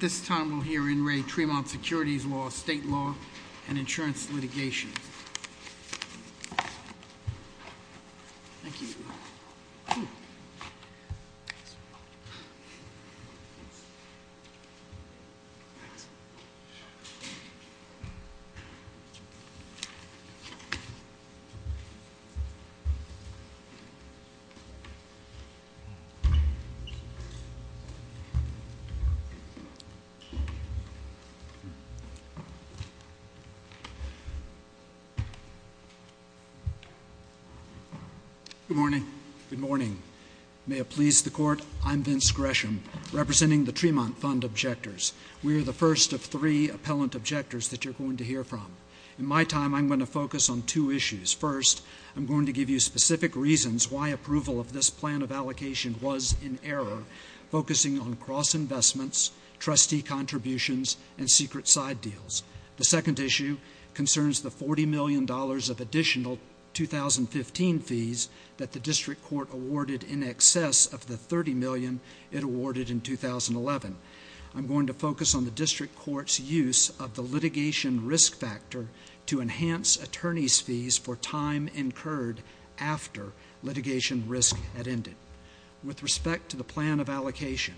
This time we'll hear in Re. Tremont Securities Law, State Law, and Insurance Litigation. Good morning. May it please the Court, I'm Vince Gresham, representing the Tremont Fund objectors. We are the first of three appellant objectors that you're going to hear from. In my time, I'm going to focus on two issues. First, I'm going to give you specific reasons why approval of this plan of allocation was in error, focusing on cross-investments, trustee contributions, and secret side deals. The second issue concerns the $40 million of additional 2015 fees that the District Court awarded in excess of the $30 million it awarded in 2011. I'm going to focus on the District Court's use of the litigation risk factor to enhance attorney's fees for time incurred after litigation risk had ended. With respect to the plan of allocation,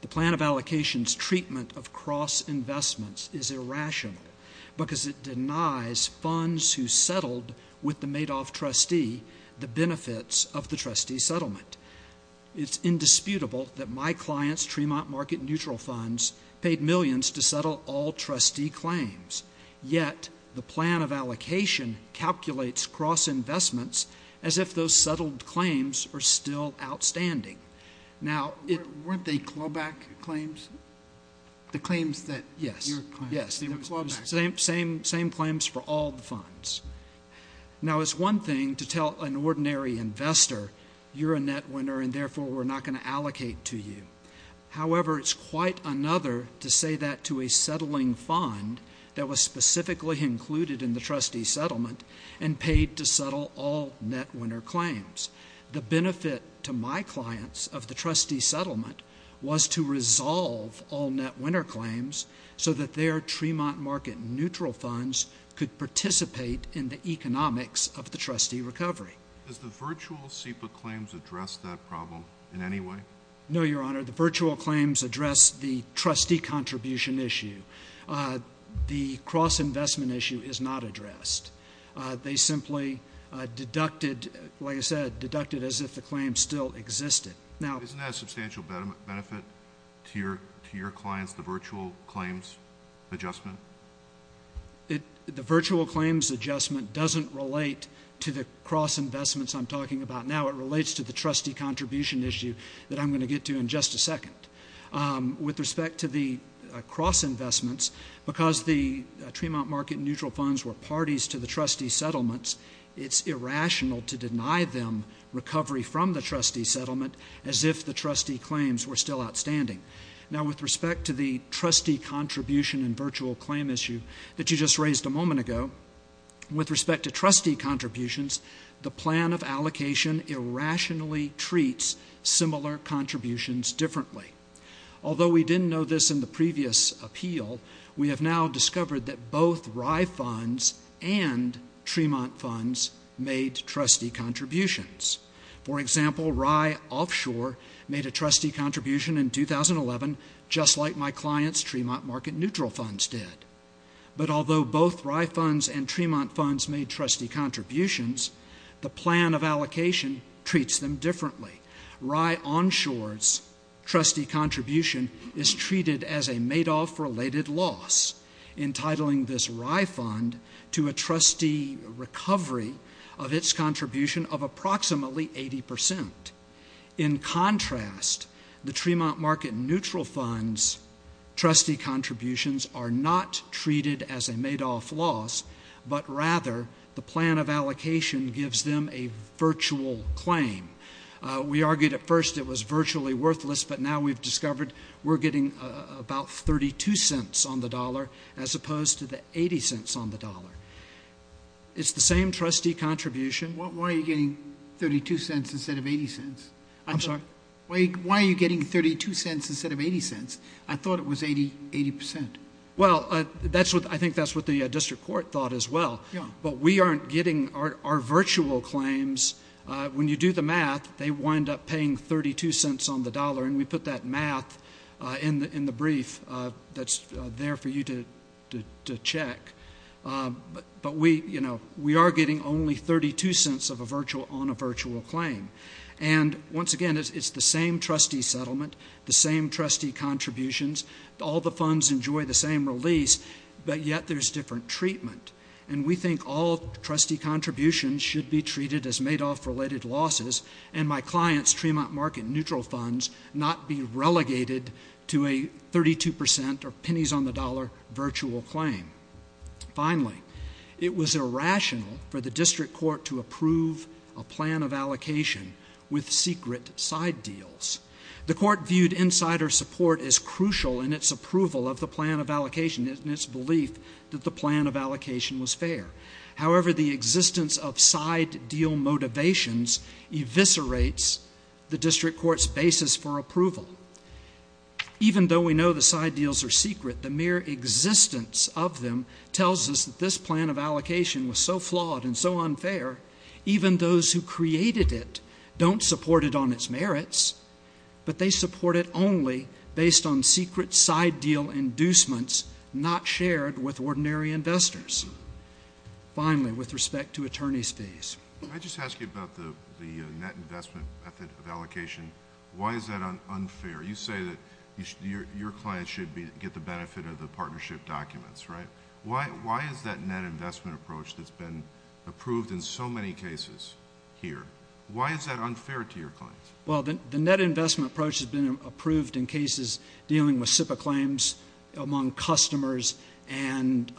the plan of allocation's treatment of cross-investments is irrational because it denies funds who settled with the Madoff trustee the benefits of the trustee settlement. It's indisputable that my client's Tremont market neutral funds paid millions to settle all trustee claims. Yet, the plan of allocation calculates cross-investments as if those settled claims are still outstanding. Now, weren't they clawback claims? The claims that you're claiming. Yes, the same claims for all the funds. Now, it's one thing to tell an ordinary investor, you're a net winner and therefore we're not going to allocate to you. However, it's quite another to say that to a settling fund that was specifically included in the trustee settlement and paid to settle all net winner claims. The benefit to my clients of the trustee settlement was to resolve all net winner claims so that their Tremont market neutral funds could participate in the economics of the trustee recovery. Does the virtual SIPA claims address that problem in any way? No, Your Honor. The virtual claims address the trustee contribution issue. The cross-investment issue is not addressed. They simply deducted, like I said, deducted as if the claims still existed. Now... Isn't that a substantial benefit to your clients, the virtual claims adjustment? The virtual claims adjustment doesn't relate to the cross-investments I'm talking about now. It relates to the trustee contribution issue that I'm going to get to in just a second. With respect to the cross-investments, because the Tremont market neutral funds were parties to the trustee settlements, it's irrational to deny them recovery from the trustee settlement as if the trustee claims were still outstanding. Now, with respect to the trustee contribution and virtual claim issue that you just raised a moment ago, with respect to trustee contributions, the plan of allocation irrationally treats similar contributions differently. Although we didn't know this in the previous appeal, we have now discovered that both RY funds and Tremont funds made trustee contributions. For example, RY Offshore made a trustee contribution in 2011, just like my client's Tremont market neutral funds did. But although both RY funds and Tremont funds made trustee contributions, the plan of allocation treats them differently. RY Onshore's trustee contribution is treated as a Madoff-related loss, entitling this RY fund to a trustee recovery of its contribution of approximately 80%. In contrast, the Tremont market neutral funds' trustee contributions are not treated as a Madoff loss, but rather the plan of allocation gives them a virtual claim. We argued at first it was virtually worthless, but now we've discovered we're getting about 32 cents on the dollar as opposed to the 80 cents on the dollar. It's the same trustee contribution. Then why are you getting 32 cents instead of 80 cents? I'm sorry? Why are you getting 32 cents instead of 80 cents? I thought it was 80%. Well, I think that's what the district court thought as well. But we aren't getting our virtual claims. When you do the math, they wind up paying 32 cents on the dollar, and we put that math in the brief that's there for you to check. But we are getting only 32 cents on a virtual claim. And once again, it's the same trustee settlement, the same trustee contributions. All the funds enjoy the same release, but yet there's different treatment. And we think all trustee contributions should be treated as Madoff-related losses and my client's Tremont market neutral funds not be relegated to a 32% or pennies-on-the-dollar virtual claim. Finally, it was irrational for the district court to approve a plan of allocation with secret side deals. The court viewed insider support as crucial in its approval of the plan of allocation and its belief that the plan of allocation was fair. However, the existence of side deal motivations eviscerates the district court's basis for approval. Even though we know the side deals are secret, the mere existence of them tells us that this plan of allocation was so flawed and so unfair, even those who created it don't support it on its merits, but they support it only based on secret side deal inducements not shared with ordinary investors. Finally, with respect to attorney's fees. Let me just ask you about the net investment method of allocation. Why is that unfair? You say that your client should get the benefit of the partnership documents, right? Why is that net investment approach that's been approved in so many cases here, why is that unfair to your client? Well, the net investment approach has been approved in cases dealing with SIPA claims among customers and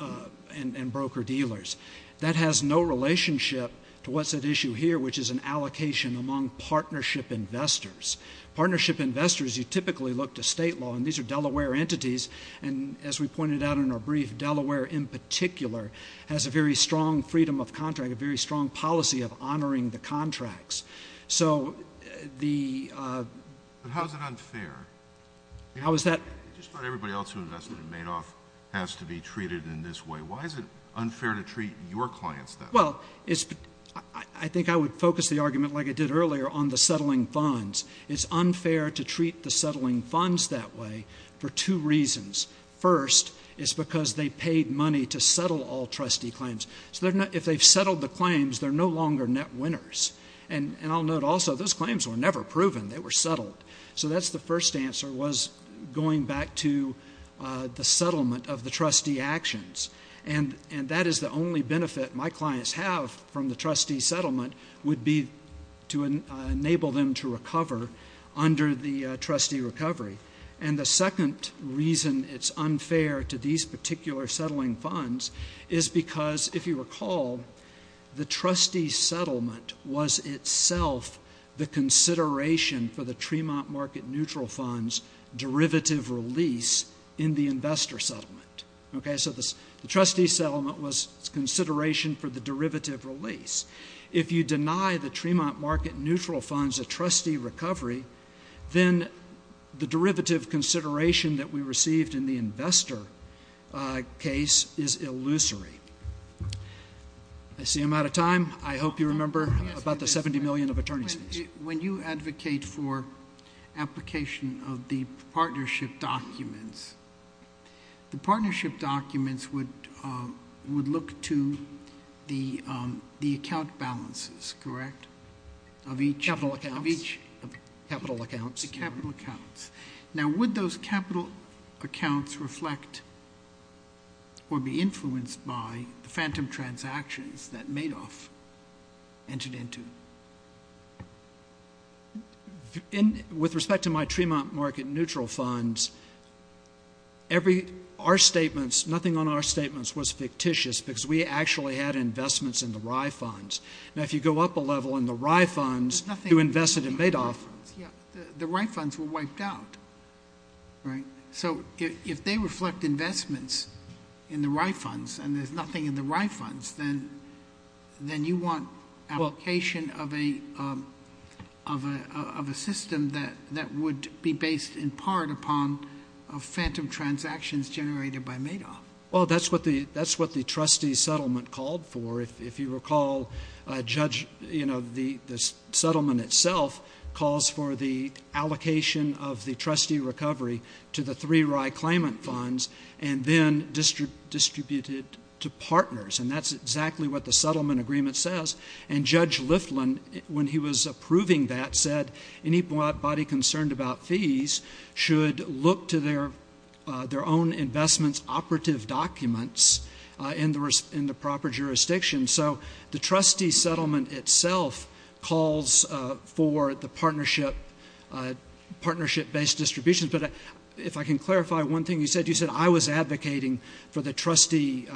broker-dealers. That has no relationship to what's at issue here, which is an allocation among partnership investors. Partnership investors, you typically look to state law, and these are Delaware entities, and as we pointed out in our brief, Delaware in particular has a very strong freedom of contract, a very strong policy of honoring the contracts. But how is it unfair? Just about everybody else who invests in Madoff has to be treated in this way. Why is it unfair to treat your clients that way? Well, I think I would focus the argument like I did earlier on the settling funds. It's unfair to treat the settling funds that way for two reasons. First, it's because they paid money to settle all trustee claims. If they settled the claims, they're no longer net winners. And I'll note also, those claims were never proven. They were settled. So that's the first answer, was going back to the settlement of the trustee actions. And that is the only benefit my clients have from the trustee settlement, would be to enable them to recover under the trustee recovery. And the second reason it's unfair to these particular settling funds is because, if you recall, the trustee settlement was itself the consideration for the Tremont Market Neutral Fund's derivative release in the investor settlement. Okay? So the trustee settlement was consideration for the derivative release. If you deny the Tremont Market Neutral Fund's a trustee recovery, then the derivative consideration that we received in the investor case is illusory. That's the amount of time. I hope you remember about the 70 million of attorney's fees. When you advocate for application of the partnership documents, the partnership documents would look to the account balances, correct? Of each... Capital accounts. Of each... Capital accounts. Now, would those capital accounts reflect or be influenced by phantom transactions that Madoff entered into? With respect to my Tremont Market Neutral Funds, our statements, nothing on our statements was fictitious because we actually had investments in the Rye Funds. Now, if you go up a level in the Rye Funds to invest it in Madoff... The Rye Funds were wiped out, right? So if they reflect investments in the Rye Funds and there's nothing in the Rye Funds, then you want application of a system that would be based in part upon phantom transactions generated by Madoff. Well, that's what the trustee settlement called for. If you recall, the settlement itself calls for the allocation of the trustee recovery to the three Rye Claimant Funds and then distributed to partners. And that's exactly what the settlement agreement says. And Judge Liflin, when he was approving that, said any body concerned about fees should look to their own investments operative documents in the proper jurisdiction. So the trustee settlement itself calls for the partnership based distribution. But if I can clarify one thing he said, he said, I was advocating for the trustee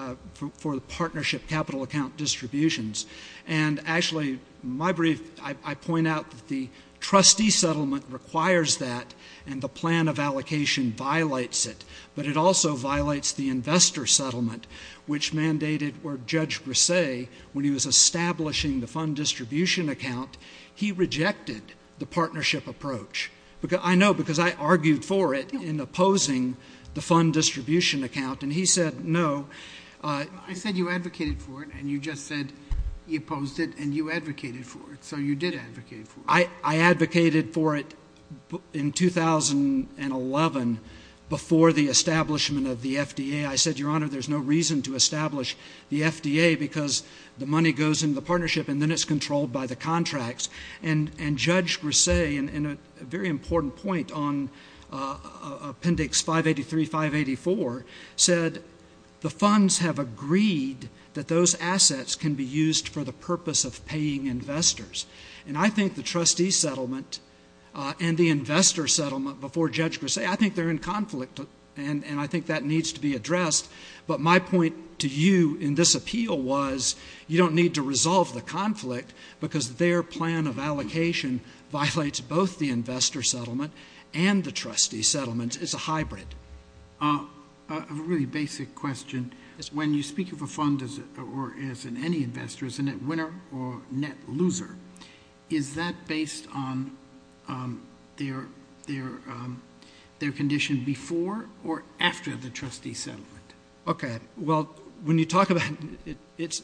for the partnership capital account distributions. And actually, my brief, I point out the trustee settlement requires that and the plan of allocation violates it. But it also violates the investor settlement, which mandated, or Judge Brisset, when he was establishing the fund distribution account, he rejected the partnership approach. I know because I argued for it in opposing the fund distribution account. And he said no. I said you advocated for it and you just said you opposed it and you advocated for it. So you did advocate for it. I advocated for it in 2011 before the establishment of the FDA. I said, Your Honor, there's no reason to establish the FDA because the money goes into the partnership and then it's controlled by the contracts. And Judge Brisset, in a very important point on Appendix 583, 584, said the funds have agreed that those assets can be used for the purpose of paying investors. And I think the trustee settlement and the investor settlement, before Judge Brisset, I think they're in conflict and I think that needs to be addressed. But my point to you in this appeal was you don't need to resolve the conflict because their plan of allocation violates both the investor settlement and the trustee settlement. It's a hybrid. A really basic question. When you speak of a fund, or as in any investor, as a net winner or net loser, is that based on their condition before or after the trustee settlement? Okay. Well, when you talk about it, it's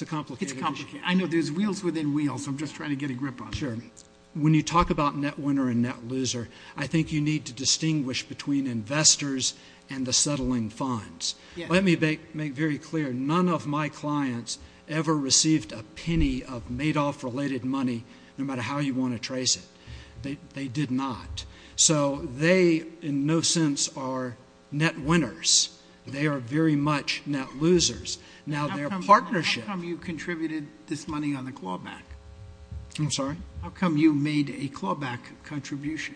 a complicated question. It's a complicated question. I know there's wheels within wheels. I'm just trying to get a grip on it. When you talk about net winner and net loser, I think you need to distinguish between investors and the settling funds. Let me make very clear, none of my clients ever received a penny of Madoff-related money, no matter how you want to trace it. They did not. So they, in no sense, are net winners. They are very much net losers. How come you contributed this money on the clawback? I'm sorry? How come you made a clawback contribution?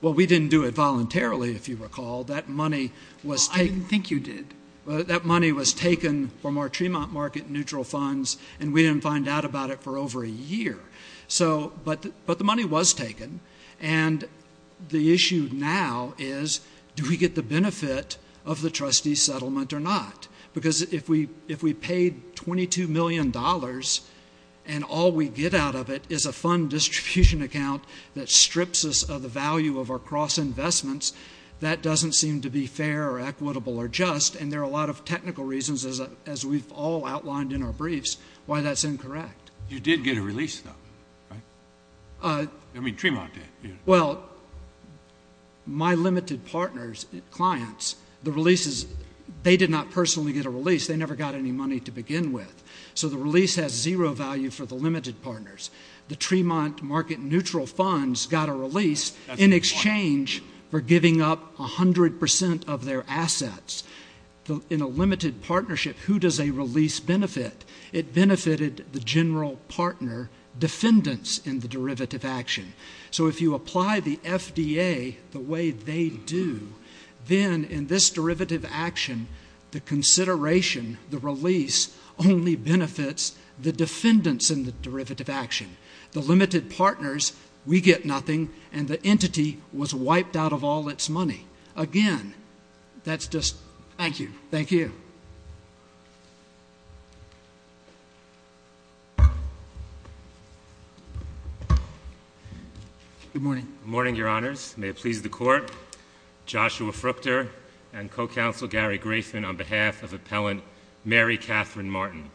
Well, we didn't do it voluntarily, if you recall. That money was taken. I think you did. That money was taken from our Tremont market neutral funds, and we didn't find out about it for over a year. But the money was taken, and the issue now is do we get the benefit of the trustee settlement or not? Because if we paid $22 million and all we get out of it is a fund distribution account that strips us of the value of our cross-investments, that doesn't seem to be fair or equitable or just, and there are a lot of technical reasons, as we've all outlined in our briefs, why that's incorrect. You did get a release of it, right? I mean, Tremont did. Well, my limited partners, clients, the releases, they did not personally get a release. They never got any money to begin with. So the release has zero value for the limited partners. The Tremont market neutral funds got a release. In exchange, they're giving up 100% of their assets. In a limited partnership, who does a release benefit? It benefited the general partner defendants in the derivative action. So if you apply the FDA the way they do, then in this derivative action, the consideration, the release only benefits the defendants in the derivative action. The limited partners, we get nothing, and the entity was wiped out of all its money. Again, that's just... Thank you. Thank you. Good morning. Good morning, Your Honors. May it please the Court, Joshua Fruchter and Co-Counsel Gary Graceman on behalf of Appellant Mary Catherine Martin.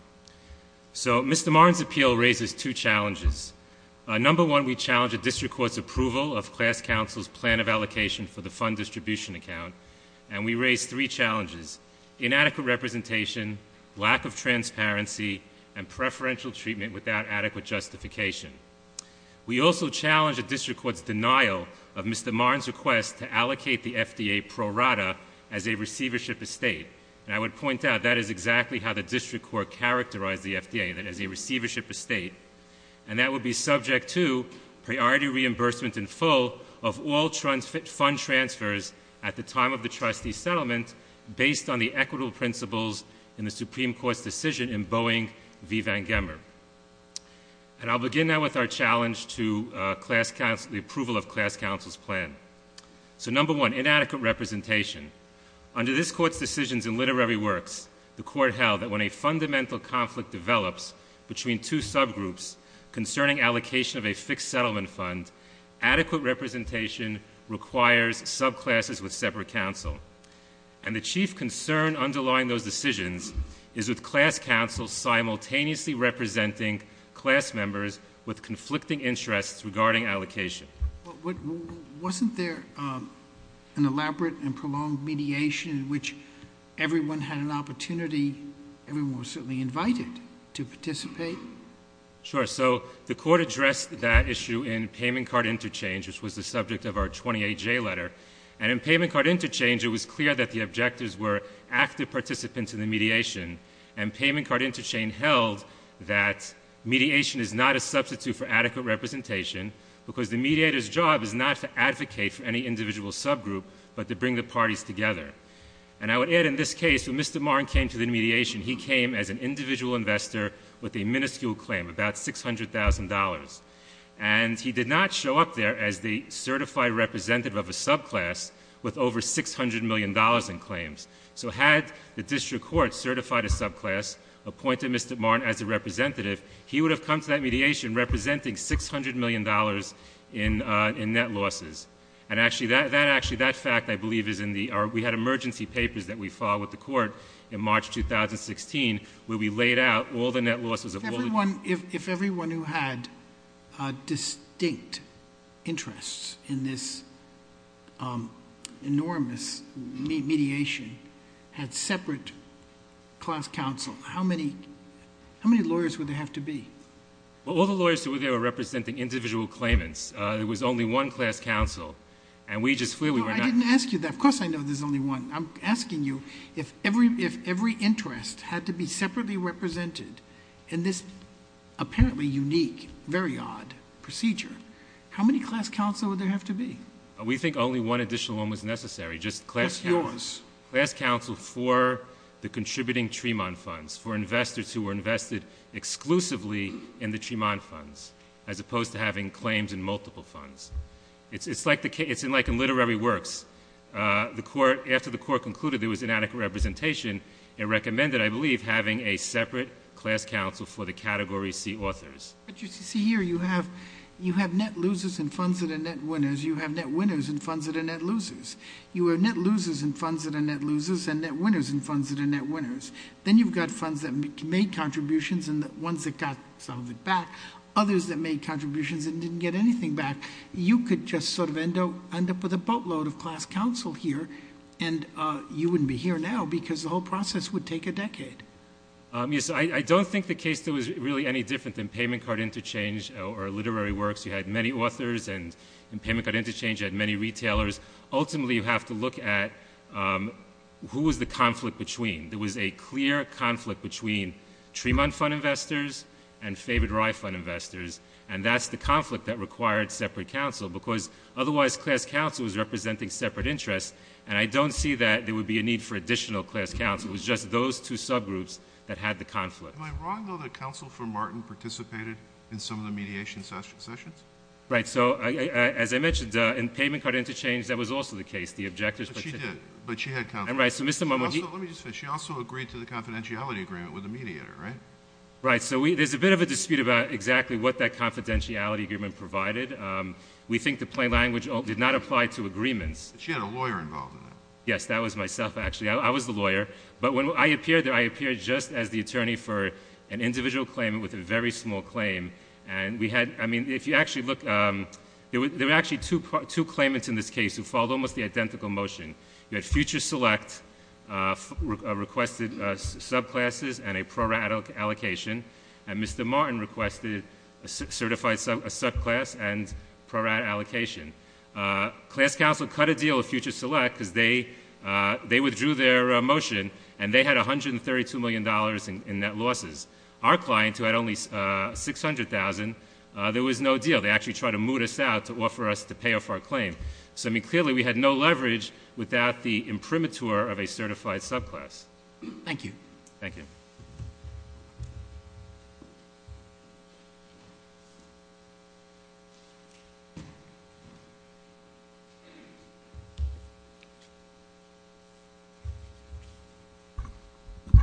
So Mr. Martin's appeal raises two challenges. Number one, we challenge the district court's approval of class counsel's plan of allocation for the fund distribution account, and we raise three challenges, inadequate representation, lack of transparency, and preferential treatment without adequate justification. We also challenge the district court's denial of Mr. Martin's request to allocate the FDA pro rata as a receivership estate. And I would point out, that is exactly how the district court characterized the FDA, that as a receivership estate. And that would be subject to priority reimbursement in full of all fund transfers at the time of the trustee settlement based on the equitable principles in the Supreme Court's decision in Boeing v. Van Gemmer. And I'll begin now with our challenge to the approval of class counsel's plan. So number one, inadequate representation. Under this court's decisions and literary works, the court held that when a fundamental conflict develops between two subgroups concerning allocation of a fixed settlement fund, adequate representation requires subclasses with separate counsel. And the chief concern underlying those decisions is with class counsel simultaneously representing class members with conflicting interests regarding allocation. Wasn't there an elaborate and prolonged mediation in which everyone had an opportunity, everyone was certainly invited to participate? Sure. So the court addressed that issue in payment card interchange, which was the subject of our 28-J letter. And in payment card interchange, it was clear that the objectives were active participants in the mediation. And payment card interchange held that mediation is not a substitute for adequate representation because the mediator's job is not to advocate for any individual subgroup, but to bring the parties together. And I would add in this mediation, he came as an individual investor with a minuscule claim, about $600,000. And he did not show up there as the certified representative of the subclass with over $600 million in claims. So had the district court certified a subclass, appointed Mr. Marn as a representative, he would have come to that mediation representing $600 million in net losses. And actually, that fact, I believe, is in the — we had emergency papers that we filed with the court in March 2016, where we laid out all the net losses of all the — If everyone who had distinct interests in this enormous mediation had separate class counsel, how many lawyers would there have to be? Well, all the lawyers that were there were representing individual claimants. There was only one class counsel. And we just clearly were not — I mean, if every interest had to be separately represented in this apparently unique, very odd procedure, how many class counsel would there have to be? We think only one additional one was necessary, just class counsel. Just yours. Class counsel for the contributing Tremont funds, for investors who were invested exclusively in the Tremont funds, as opposed to having claims in multiple funds. It's like the — it's like in literary works. The court — after the court concluded there was inadequate representation, it recommended, I believe, having a separate class counsel for the category C authors. But you see here, you have net losers and funds that are net winners. You have net winners and funds that are net losers. You have net losers and funds that are net losers, and net winners and funds that are net winners. Then you've got funds that made contributions and ones that got something back, others that made contributions and didn't get anything back. You could just sort of end up — end up with a boatload of class counsel here, and you wouldn't be here now because the whole process would take a decade. Yes, I don't think the case was really any different than payment card interchange or literary works. You had many authors, and in payment card interchange you had many retailers. Ultimately, you have to look at who was the conflict between. There was a clear conflict between Tremont fund investors and David Roy fund investors, and that's the conflict that required separate counsel, because otherwise class counsel is representing separate interests, and I don't see that there would be a need for additional class counsel. It was just those two subgroups that had the conflict. Am I wrong to know that counsel for Martin participated in some of the mediation sessions? Right. So, as I mentioned, in payment card interchange, that was also the case. The objectives — She did, but she had conflicts. Right. So, Mr. — Let me just finish. She also agreed to the confidentiality agreement with the mediator, right? Right. So, there's a bit of a dispute about exactly what that confidentiality agreement provided. We think the plain language did not apply to agreements. But she had a lawyer involved in that. Yes, that was myself, actually. I was the lawyer. But when I appeared there, I appeared just as the attorney for an individual claim with a very small claim, and we had — I mean, if you actually look — there were actually two claimants in this case who filed almost the identical motion. We had Future Select requested subclasses and a pro-rata allocation, and Mr. Martin requested a certified subclass and pro-rata allocation. Class counsel cut a deal with Future Select because they withdrew their motion, and they had $132 million in net losses. Our clients, who had only $600,000, there was no deal. They actually tried to moot us out to offer us to pay off our claim. So, I mean, clearly we had no leverage without the imprimatur of a certified subclass. Thank you. Thank you. Good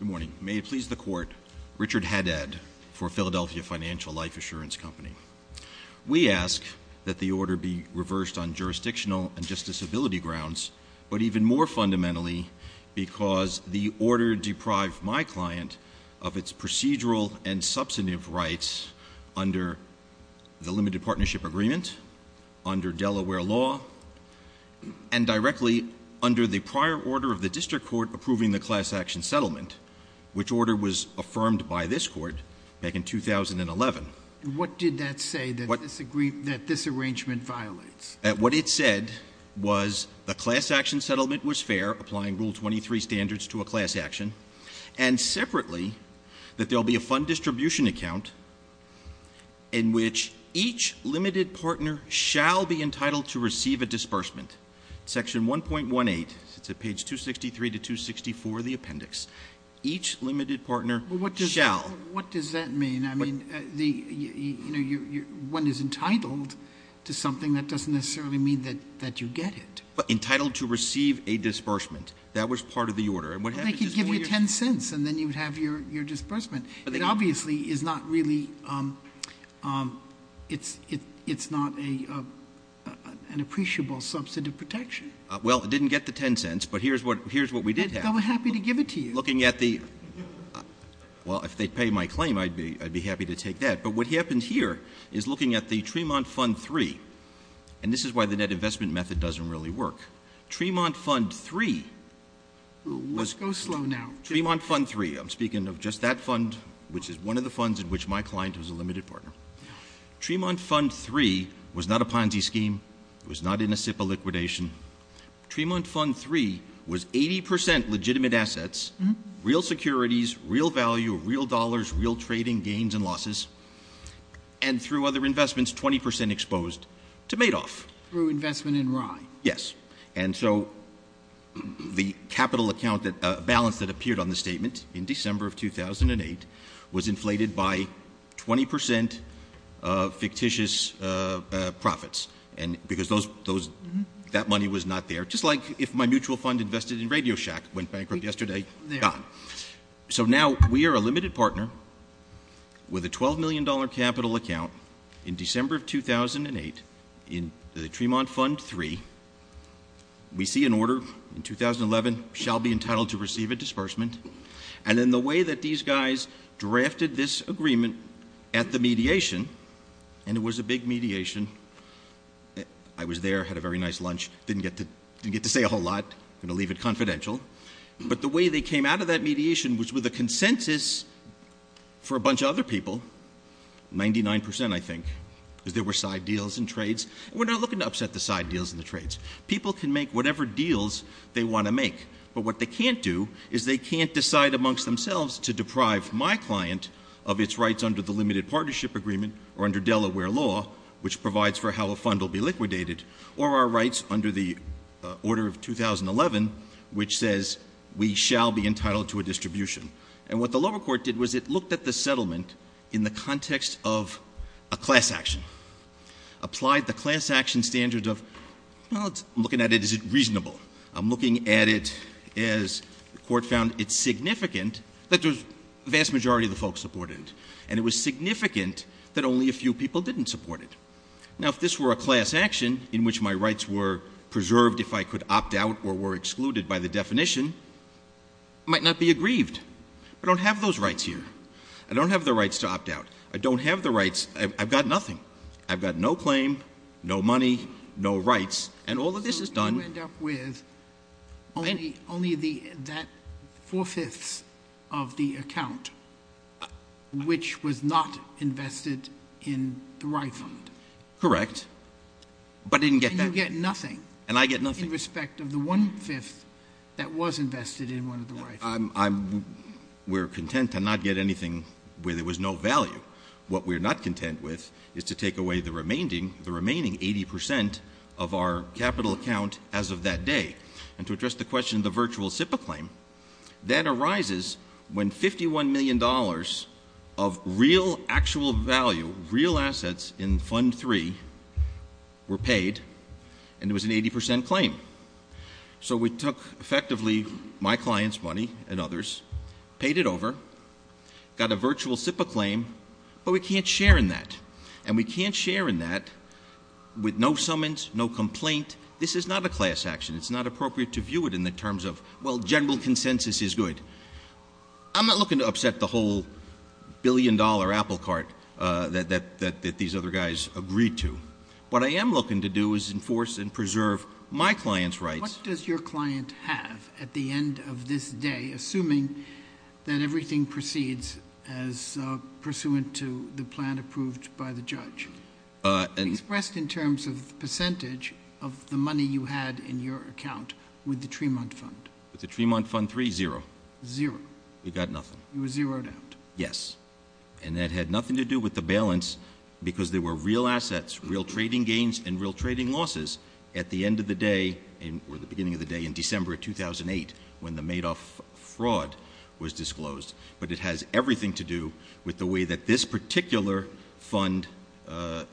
morning. May it please the Court, Richard Haddad for Philadelphia Financial Life Assurance Company. We ask that the order be reversed on jurisdictional and justiciability grounds, but even more fundamentally, because the order deprived my client of its procedural and substantive rights under the Limited Partnership Agreement, under Delaware law, and directly under the prior order of the district court approving the class action settlement, which order was affirmed by this court back in 2011. What did that say that this arrangement violates? That what it said was a class action settlement was fair, applying Rule 23 standards to a class action, and separately, that there will be a fund distribution account in which each limited partner shall be entitled to receive a disbursement. Section 1.18, it's at page 263 to 264 of the appendix. Each limited partner shall. What does that mean? I mean, you know, one is entitled to something that doesn't necessarily mean that you get it. Entitled to receive a disbursement. That was part of the order. Well, they could give you 10 cents, and then you'd have your disbursement. It obviously is not really, it's not an appreciable substantive protection. Well, it didn't get the 10 cents, but here's what we did have. Well, we're happy to give it to you. Well, if they pay my claim, I'd be happy to take that. But what happens here is looking at the Tremont Fund 3, and this is why the net investment method doesn't really work. Tremont Fund 3 was. Go slow now. Tremont Fund 3, I'm speaking of just that fund, which is one of the funds in which my client was a limited partner. Tremont Fund 3 was not a Ponzi scheme. It was not in a liquidation. Tremont Fund 3 was 80% legitimate assets, real securities, real value, real dollars, real trading gains and losses, and through other investments, 20% exposed to Madoff. Through investment in Rye. Yes. And so the capital account balance that appeared on the statement in December of 2008 was inflated by 20% of fictitious profits, because that money was not there. Just like if my mutual fund invested in RadioShack went bankrupt yesterday. Yeah. So now we are a limited partner with a $12 million capital account in December of 2008 in the Tremont Fund 3. We see an order in 2011 shall be entitled to receive a disbursement. And in the way that these guys drafted this agreement at the mediation, and it was a big mediation, I was there, had a very nice lunch, didn't get to say a whole lot, going to leave it confidential, but the way they came out of that mediation was with a consensus for a bunch of other people, 99% I think, that there were side deals and trades. We're not looking to upset the side deals and the trades. People can make whatever deals they want to make. But what they can't do is they can't decide amongst themselves to deprive my client of its rights under the limited partnership agreement or under Delaware law, which provides for how a fund will be liquidated, or our rights under the order of 2011, which says we shall be entitled to a distribution. And what the lower court did was it looked at the settlement in the context of a class action, applied the class action standards of, well, I'm looking at it, is it reasonable? I'm looking at it as the court found it significant that the vast majority of the folks supported it, and it was significant that only a few people didn't support it. Now, if this were a class action in which my rights were preserved if I could opt out or were excluded by the definition, I might not be aggrieved. I don't have those rights here. I don't have the rights to opt out. I don't have the rights. I've got nothing. I've got no claim, no money, no rights, and all of this is done... So you end up with only that four-fifths of the account, which was not invested in the right fund. Correct. But I didn't get that. And you get nothing. And I get nothing. In respect of the one-fifth that was invested in one of the rights. We're content to not get anything where there was no value. What we're not content with is to take away the remaining 80 percent of our capital account as of that day. And to address the question of the virtual SIPA claim, that arises when 51 million dollars of real, actual value, real assets in Fund 3 were paid, and there was an 80 percent claim. So we took, effectively, my client's money and others, paid it over, got a virtual SIPA claim, but we can't share in that. And we can't share in that with no summons, no complaint. This is not a class action. It's not appropriate to view it in the terms of, well, general consensus is good. I'm not looking to upset the whole issue. What I am looking to do is enforce and preserve my client's rights. What does your client have at the end of this day, assuming that everything proceeds as pursuant to the plan approved by the judge? Expressed in terms of percentage of the money you had in your account with the Tremont Fund. With the Tremont Fund 3, zero. Zero. We got nothing. It was zeroed out. Yes. And that had nothing to do with the balance, because there were real assets, real trading gains, and real trading losses at the end of the day, or the beginning of the day, in December 2008, when the Madoff fraud was disclosed. But it has everything to do with the way that this particular fund, the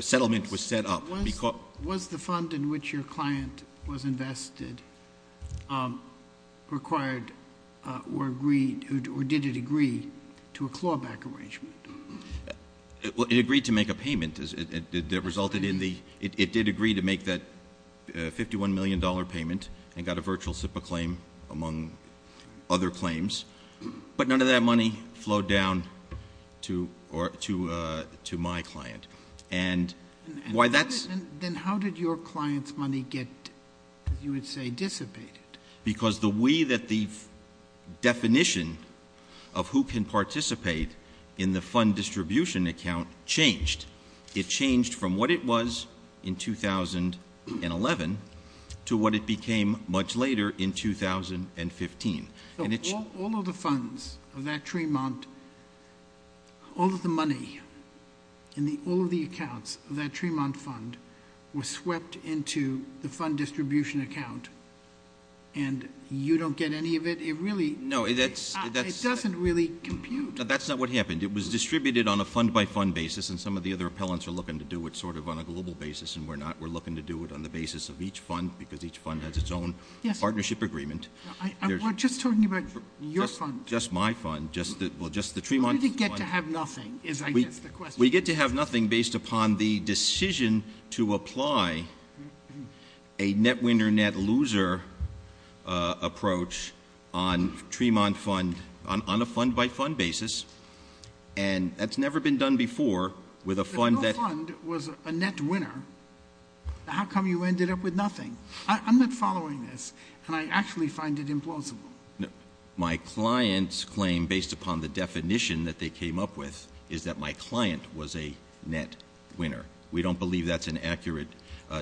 settlement was set up. Was the fund in which your client was or did it agree to a clawback arrangement? It agreed to make a payment. It resulted in the — it did agree to make that $51 million payment and got a virtual SIPA claim, among other claims. But none of that money flowed down to my client. And why that's — Then how did your client's money get, you would say, dissipated? Because the way that the definition of who can participate in the fund distribution account changed. It changed from what it was in 2011 to what it became much later in 2015. So all of the funds of that Tremont — were swept into the fund distribution account. And you don't get any of it? It doesn't really compute. That's not what happened. It was distributed on a fund-by-fund basis, and some of the other appellants are looking to do it sort of on a global basis, and we're not. We're looking to do it on the basis of each fund, because each fund has its own partnership agreement. Just talking about your fund. Just my fund. We get to have nothing based upon the decision to apply a net winner, net loser approach on a fund-by-fund basis. And that's never been done before with a fund that — If your fund was a net winner, how come you ended up with nothing? I'm not following this. Can I actually find it implausible? My client's claim, based upon the definition that they came up with, is that my client was a net winner. We don't believe that's an accurate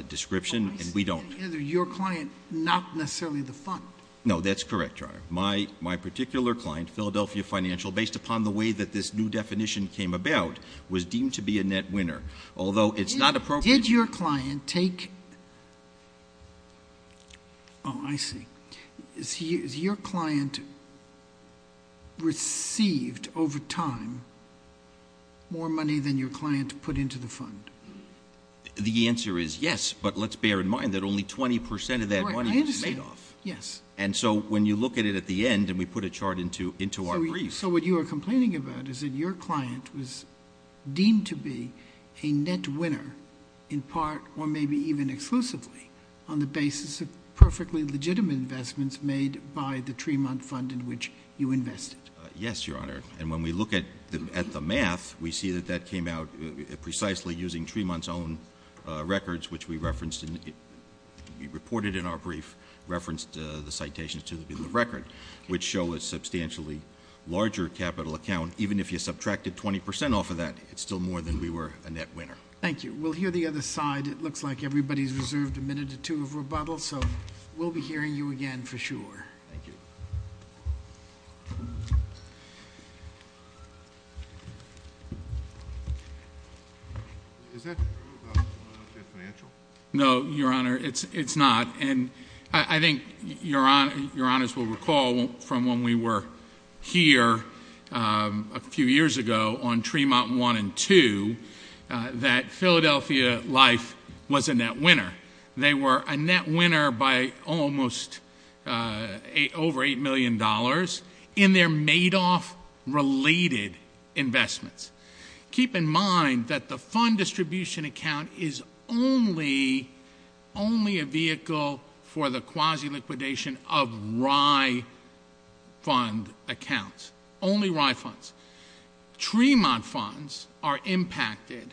description, and we don't — Your client, not necessarily the fund. No, that's correct, Your Honor. My particular client, Philadelphia Financial, based upon the way that this new definition came about, was deemed to be a net winner. Did your client take — Oh, I see. Has your client received, over time, more money than your client put into the fund? The answer is yes, but let's bear in mind that only 20 percent of that money was made off. And so when you look at it at the end, and we put a chart into our brief — Yes, Your Honor. And when we look at the math, we see that that came out precisely using Tremont's own records, which we referenced — we reported in our brief, referenced the citations to the record, which show a substantially larger capital account. And even if you subtracted 20 percent off of that, it's still more than we were a net winner. Thank you. We'll hear the other side. It looks like everybody's reserved a minute or two of rebuttal. So we'll be hearing you again for sure. Thank you. No, Your Honor, it's not. And I think Your Honors will recall from when we were here a few years ago on Tremont 1 and 2 that Philadelphia Life was a net winner. They were a net winner by almost over $8 million in their made-off related investments. Keep in mind that the fund distribution account is only a vehicle for the quasi-liquidation of Rye fund accounts. Only Rye funds. Tremont funds are impacted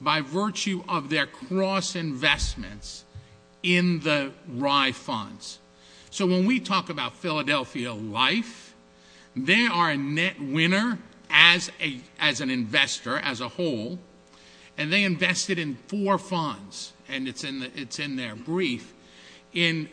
by virtue of their cross-investments in the Rye funds. So when we talk about Philadelphia Life, they are a net winner as an investor, as a whole, and they invested in four funds. And it's in their brief. In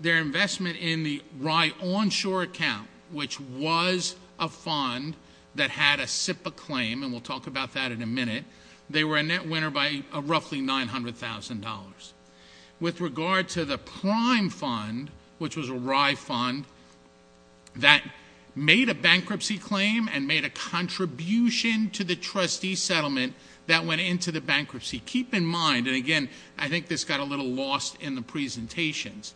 their investment in the Rye Onshore account, which was a fund that had a SIPPA claim, and we'll talk about that in a minute, they were a net winner by roughly $900,000. With regard to the prime fund, which was a Rye fund, that made a bankruptcy claim and made a contribution to the trustee settlement that went into the bankruptcy, keep in mind, and again, I think this got a little lost in the presentations,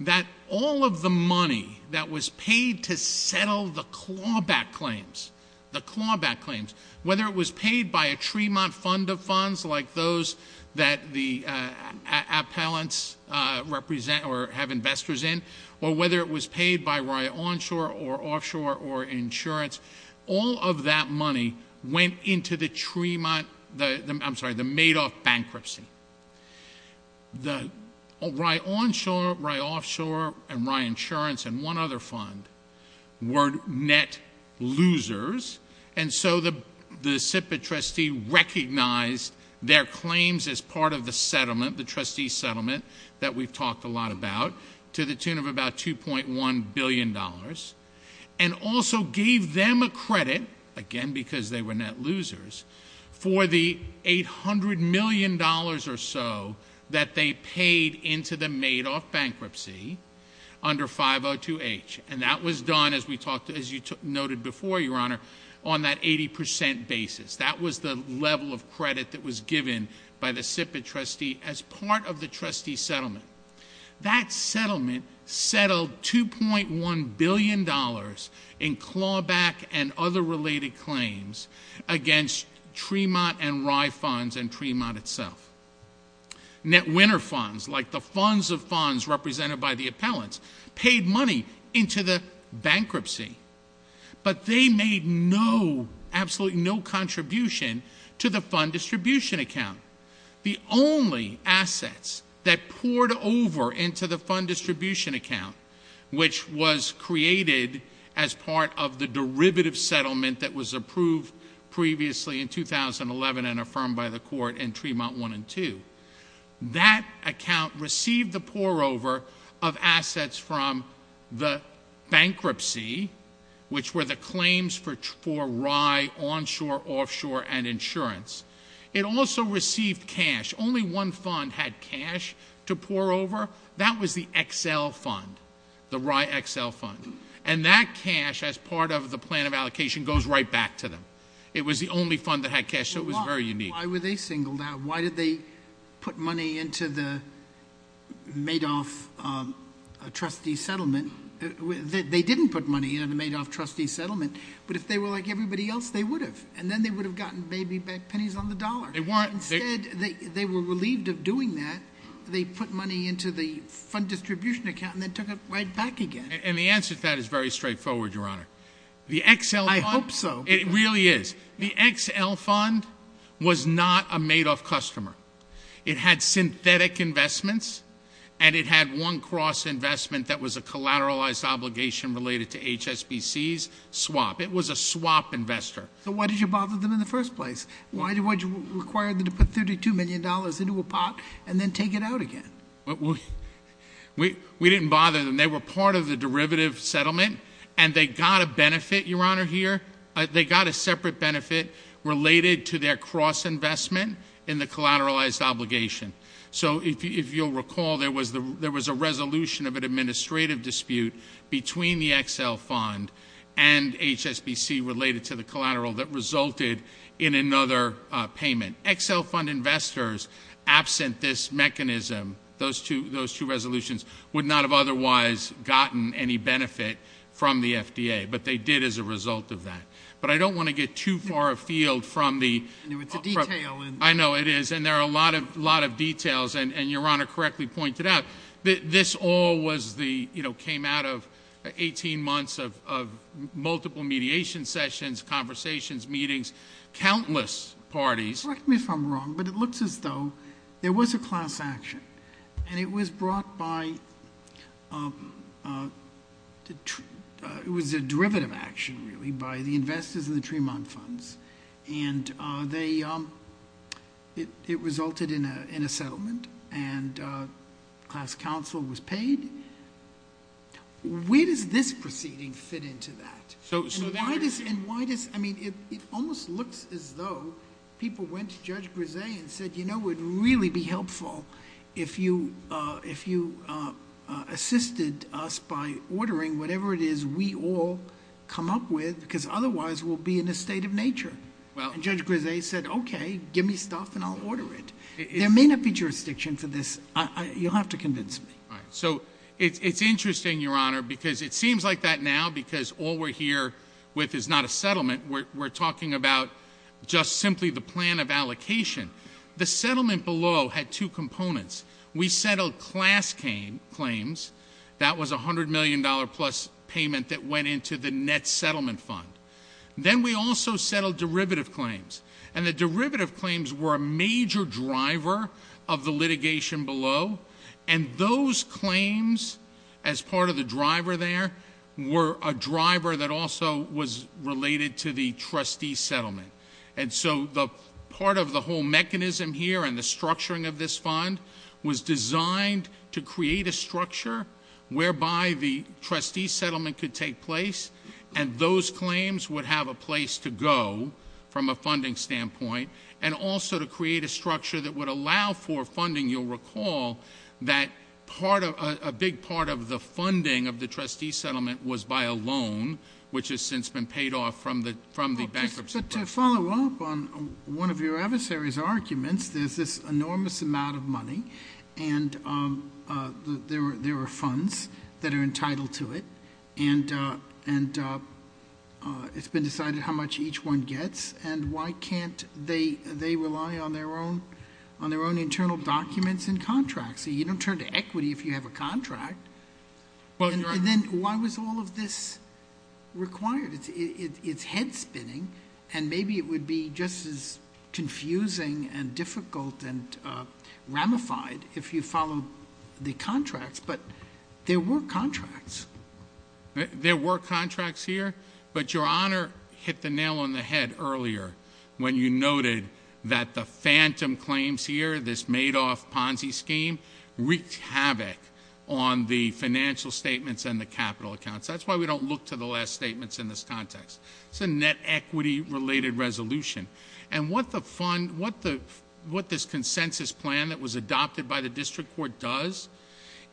that all of the money that was paid to settle the clawback claims, the clawback claims, whether it was paid by a Tremont fund of funds like those that the appellants represent or have investors in, or whether it was paid by Rye Onshore or Offshore or Insurance, all of that money went into the Tremont, I'm sorry, the Madoff bankruptcy. The Rye Onshore, Rye Offshore, and Rye Insurance and one other fund were net losers, and so the SIPPA trustee recognized their claims as part of the settlement, the trustee settlement that we've talked a lot about, to the tune of about $2.1 billion, and also gave them a credit, again, because they were net losers, for the $800 million or so that they paid into the Madoff bankruptcy under 502H, and that was done, as you noted before, Your Honor, on that 80% basis. That was the level of credit that was given by the SIPPA trustee as part of the trustee settlement. That settlement settled $2.1 billion in clawback and other related claims against Tremont and Rye funds and Tremont itself. Net winner funds, like the funds of funds represented by the appellants, paid money into the bankruptcy, but they made no, absolutely no contribution to the fund distribution account. The only assets that poured over into the fund distribution account, which was created as part of the derivative settlement that was approved previously in 2011 and affirmed by the court in Tremont 1 and 2, that account received the pour over of assets from the bankruptcy, which were the claims for Rye Onshore, Offshore, and Insurance. It also received cash. Only one fund had cash to do that, and that cash, as part of the plan of allocation, goes right back to them. It was the only fund that had cash, so it was very unique. Why were they singled out? Why did they put money into the Madoff trustee settlement? They didn't put money into the Madoff trustee settlement, but if they were like everybody else, they would have, and then they would have gotten maybe pennies on the dollar. Instead, they were relieved of the Madoff trustee settlement. The XL fund was not a Madoff customer. It had synthetic investments, and it had one cross-investment that was a collateralized obligation related to HSBC's swap. It was a swap investor. Why did you require them to put $32 million into a pot and then take it out again? We didn't bother them. They were part of the derivative settlement, and they got a benefit, Your Honor, here. They got a separate benefit related to their cross-investment in the collateralized obligation. If you'll recall, there was a resolution of an administrative dispute between the XL fund and HSBC related to the collateral that resulted in another payment. XL fund investors, absent this mechanism, those two resolutions, would not have otherwise gotten any benefit from the FDA, but they did as a result of that. But I don't want to get too far afield from the detail. I know it is, and there are a lot of details, and Your Honor correctly pointed out that this all came out of 18 months of multiple mediation sessions, conversations, meetings, countless parties. Correct me if I'm wrong, but it looks as though there was a class action, and it was brought by, it was a derivative action, really, by the investors in the Tremont funds, and it resulted in a settlement, and class action was paid. Where does this proceeding fit into that? It almost looks as though people went to Judge Grizzay and said, you know, it would really be helpful if you assisted us by ordering whatever it is we all come up with, because otherwise we'll be in a state of nature. Judge Grizzay said, okay, give me stuff and I'll order it. There may not be jurisdiction for this. You'll have to convince me. So it's interesting, Your Honor, because it seems like that now, because all we're here with is not a settlement. We're talking about just simply the plan of allocation. The settlement below had two components. We settled class claims. That was $100 million plus payment that went into the net derivative claims. And the derivative claims were a major driver of the litigation below, and those claims, as part of the driver there, were a driver that also was related to the trustee settlement. And so part of the whole mechanism here and the structuring of this fund was designed to create a structure whereby the trustee settlement could take place, and those claims would have a place to go from a funding standpoint, and also to create a structure that would allow for funding. You'll recall that a big part of the funding of the trustee settlement was by a loan, which has since been paid off from the bankruptcy. To follow up on one of your other series of arguments, there's this enormous amount of money and there are funds that are entitled to it, and it's been decided how much each one gets, and why can't they rely on their own internal documents and contracts? You don't turn to equity if you have a contract. And then why was all of this required? It's head spinning, and maybe it would be just as confusing and difficult and ramified if you followed the contracts, but there were contracts. There were contracts here, but Your Honor hit the nail on the head earlier when you noted that the phantom claims here, this Madoff Ponzi scheme, wreaked havoc on the financial statements and the capital accounts. That's why we don't look to the last statements in this context. It's a net equity-related resolution. And what this consensus plan that was adopted by the District Court does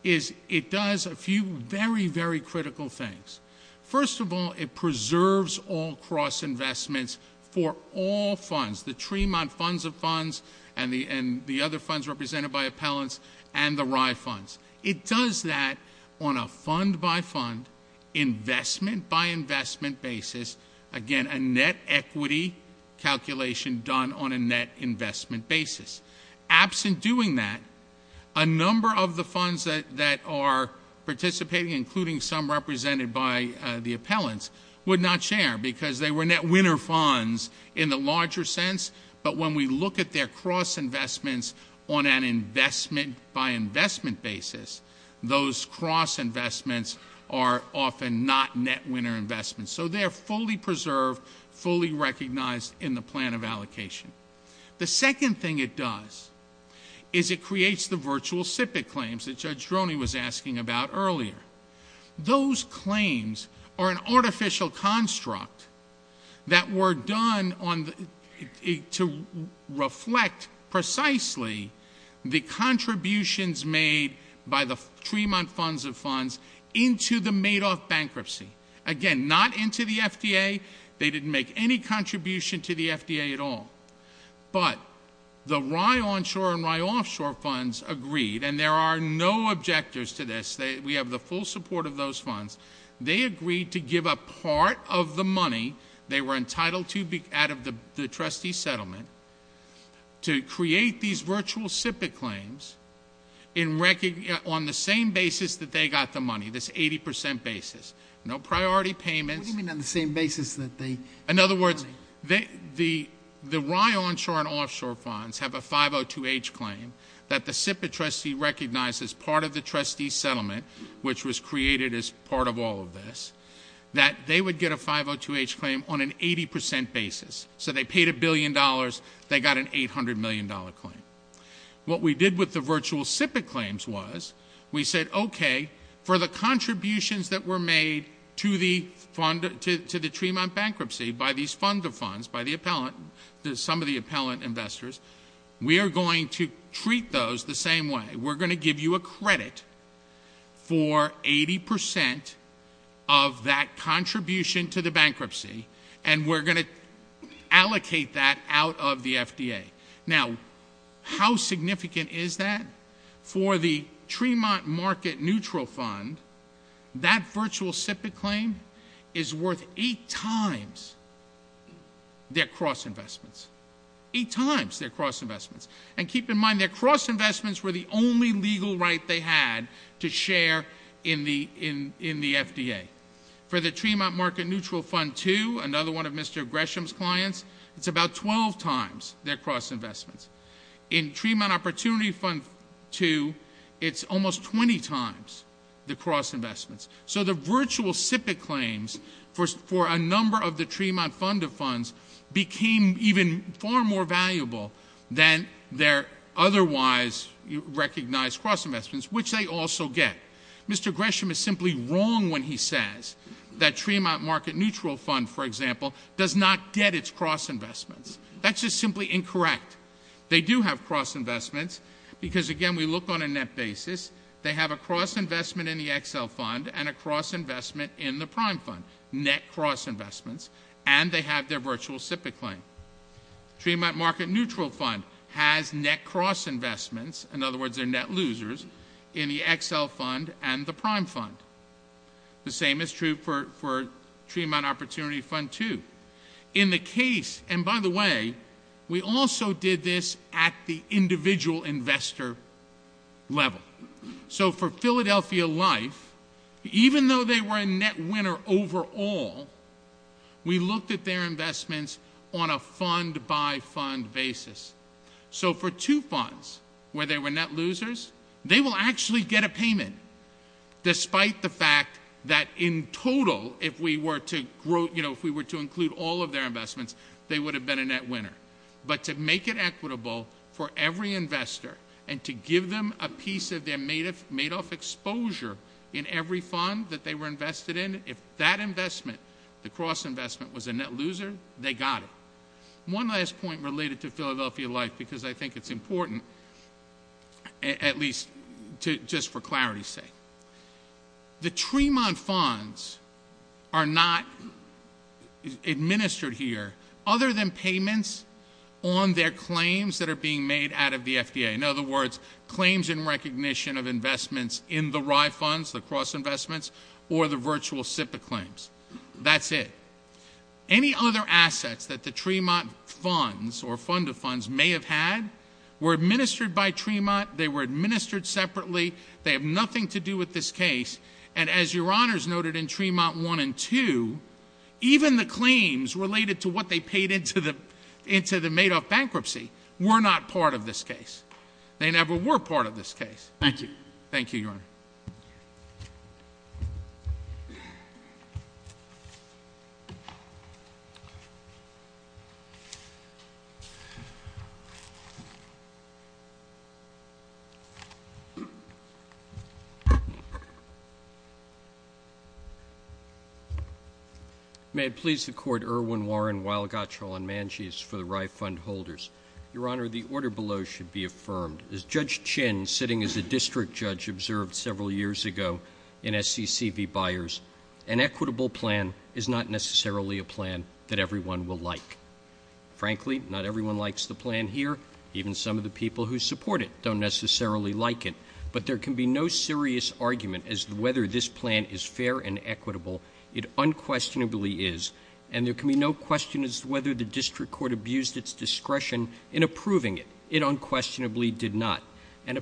is it does a few very, very critical things. First of all, it preserves all cross-investments for all funds, the Tremont funds of funds and the other funds represented by appellants and the Rye funds. It does that on a fund-by-fund, investment-by-investment basis. Again, a net equity calculation done on a net investment basis. Absent doing that, a number of the funds that are participating, including some represented by the appellants, would not share because they were net winner funds in the fund-by-investment basis. Those cross-investments are often not net winner investments. So they're fully preserved, fully recognized in the plan of allocation. The second thing it does is it creates the virtual SIPC claims that Judge Droney was asking about earlier. Those claims are an artificial construct that were done to reflect precisely the contributions made by the Tremont funds of funds into the Madoff bankruptcy. Again, not into the FDA. They didn't make any contribution to the FDA at all. But the Rye Onshore and Rye Offshore funds agreed, and there are no objectives to this. We have the full support of those funds. They agreed to give up part of the money they were entitled to out of the trustee settlement to create these virtual SIPC claims on the same basis that they got the money, this 80 percent basis. No priority payments. In other words, the Rye Onshore and Offshore funds have a 502H claim that the SIPC trustee recognized as part of the trustee settlement, which was part of all of this, that they would get a 502H claim on an 80 percent basis. So they paid a billion dollars. They got an $800 million claim. What we did with the virtual SIPC claims was we said, okay, for the contributions that were made to the Tremont bankruptcy by these funds of funds, by some of the appellant investors, we are going to treat those the same way. We are going to give you a credit for 80 percent of that contribution to the bankruptcy, and we are going to allocate that out of the FDA. Now, how significant is that? For the Tremont market neutral fund, that virtual SIPC claim is worth eight times their cross investments. Eight times their cross investments. And keep in mind, their cross investments were the only legal right they had to share in the FDA. For the Tremont market neutral fund, too, another one of Mr. Gresham's clients, it's about 12 times their cross investments. In Tremont opportunity fund, too, it's almost 20 times their cross investments. So the virtual SIPC claims for a number of the Tremont fund of funds became even far more valuable than their otherwise recognized cross investments, which they also get. Mr. Gresham is simply wrong when he says that Tremont market neutral fund, for example, does not get its cross investments. That's just simply incorrect. They do have cross investments because, again, we look on a net basis. They have a cross investment in the XL fund and a cross investment in the prime fund. Net cross investments. And they have their virtual SIPC claim. Tremont market neutral fund has net cross investments, in other words, their net losers, in the XL fund and the prime fund. The same is true for Tremont opportunity fund, too. In the case, and by the way, we also did this at the individual investor level. So for Philadelphia Life, even though they were a net winner overall, we looked at their investments on a fund by fund basis. So for two funds where they were net losers, they will actually get a payment despite the fact that in total, if we were to include all of their investments, they would have been a net winner. But to make it equitable for every investor and to give them a piece of their made-off exposure in every fund that they were invested in, if that investment, the cross investment, was a net loser, they got it. One last point related to Philadelphia Life, because I think it's important, at least just for clarity's sake. The Tremont funds are not administered here, other than payments on their claims that are being made out of the FDA. In other words, claims in recognition of investments in the RI funds, the cross investments, or the virtual SIPC claims. That's it. Any other assets that the Tremont funds or fund-to-funds may have had were administered by Tremont. They were administered separately. They have nothing to do with this case. And as Your Honors noted in Tremont 1 and 2, even the claims related to what they paid into the made-off bankruptcy were not part of this case. They never were part of this case. Thank you. May it please the Court, Irwin Warren, Weil Gottschall, and Manjis for the RI fund holders. Your Honor, the order below should be affirmed. An equitable plan is not necessarily a plan that everyone will like. Frankly, not everyone likes the plan here. But there can be no serious argument as to whether this plan is fair and equitable. It unquestionably is. It unquestionably did not. How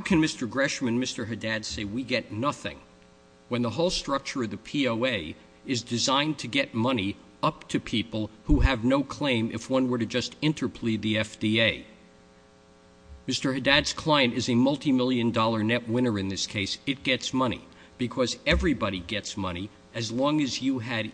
can Mr. Gresham and Mr. Haddad say we get nothing when the whole structure of the POA is designed to get money up to people who have no claim if one were to just interplead the FDA? Mr. Haddad's client is a multi-million dollar net winner in this case. It gets money. Because everybody gets money as long as you had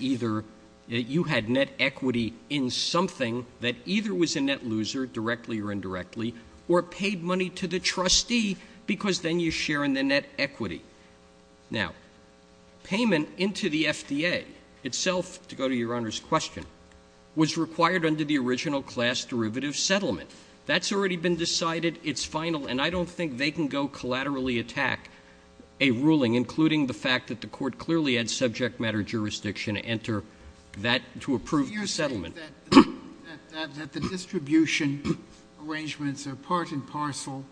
net equity in something that either was a net loser, directly or indirectly, or paid money to the trustee, because then you share in the net equity. Now, payment into the FDA itself, to go to Your Honor's question, was required under the original class derivative settlement. That's already been decided, it's final, and I don't think they can go collaterally attack a ruling, including the fact that the court clearly had subject matter jurisdiction to enter that to approve your settlement. I think that the distribution arrangements are part and parcel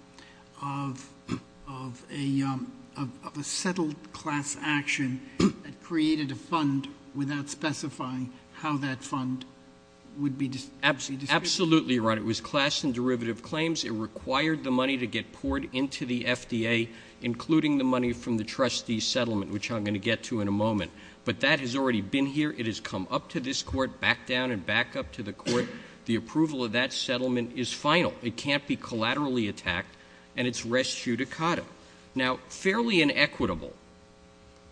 of a settled class action that created a fund without specifying how that fund would be distributed. Absolutely right. It was class and derivative claims. It required the money to get poured into the FDA, including the money from the trustee's settlement, which I'm going to get to in a moment. But that has already been here. It has come up to this court, back down and back up to the court. The approval of that settlement is final. It can't be collaterally attacked, and it's res judicata. Now, fairly inequitable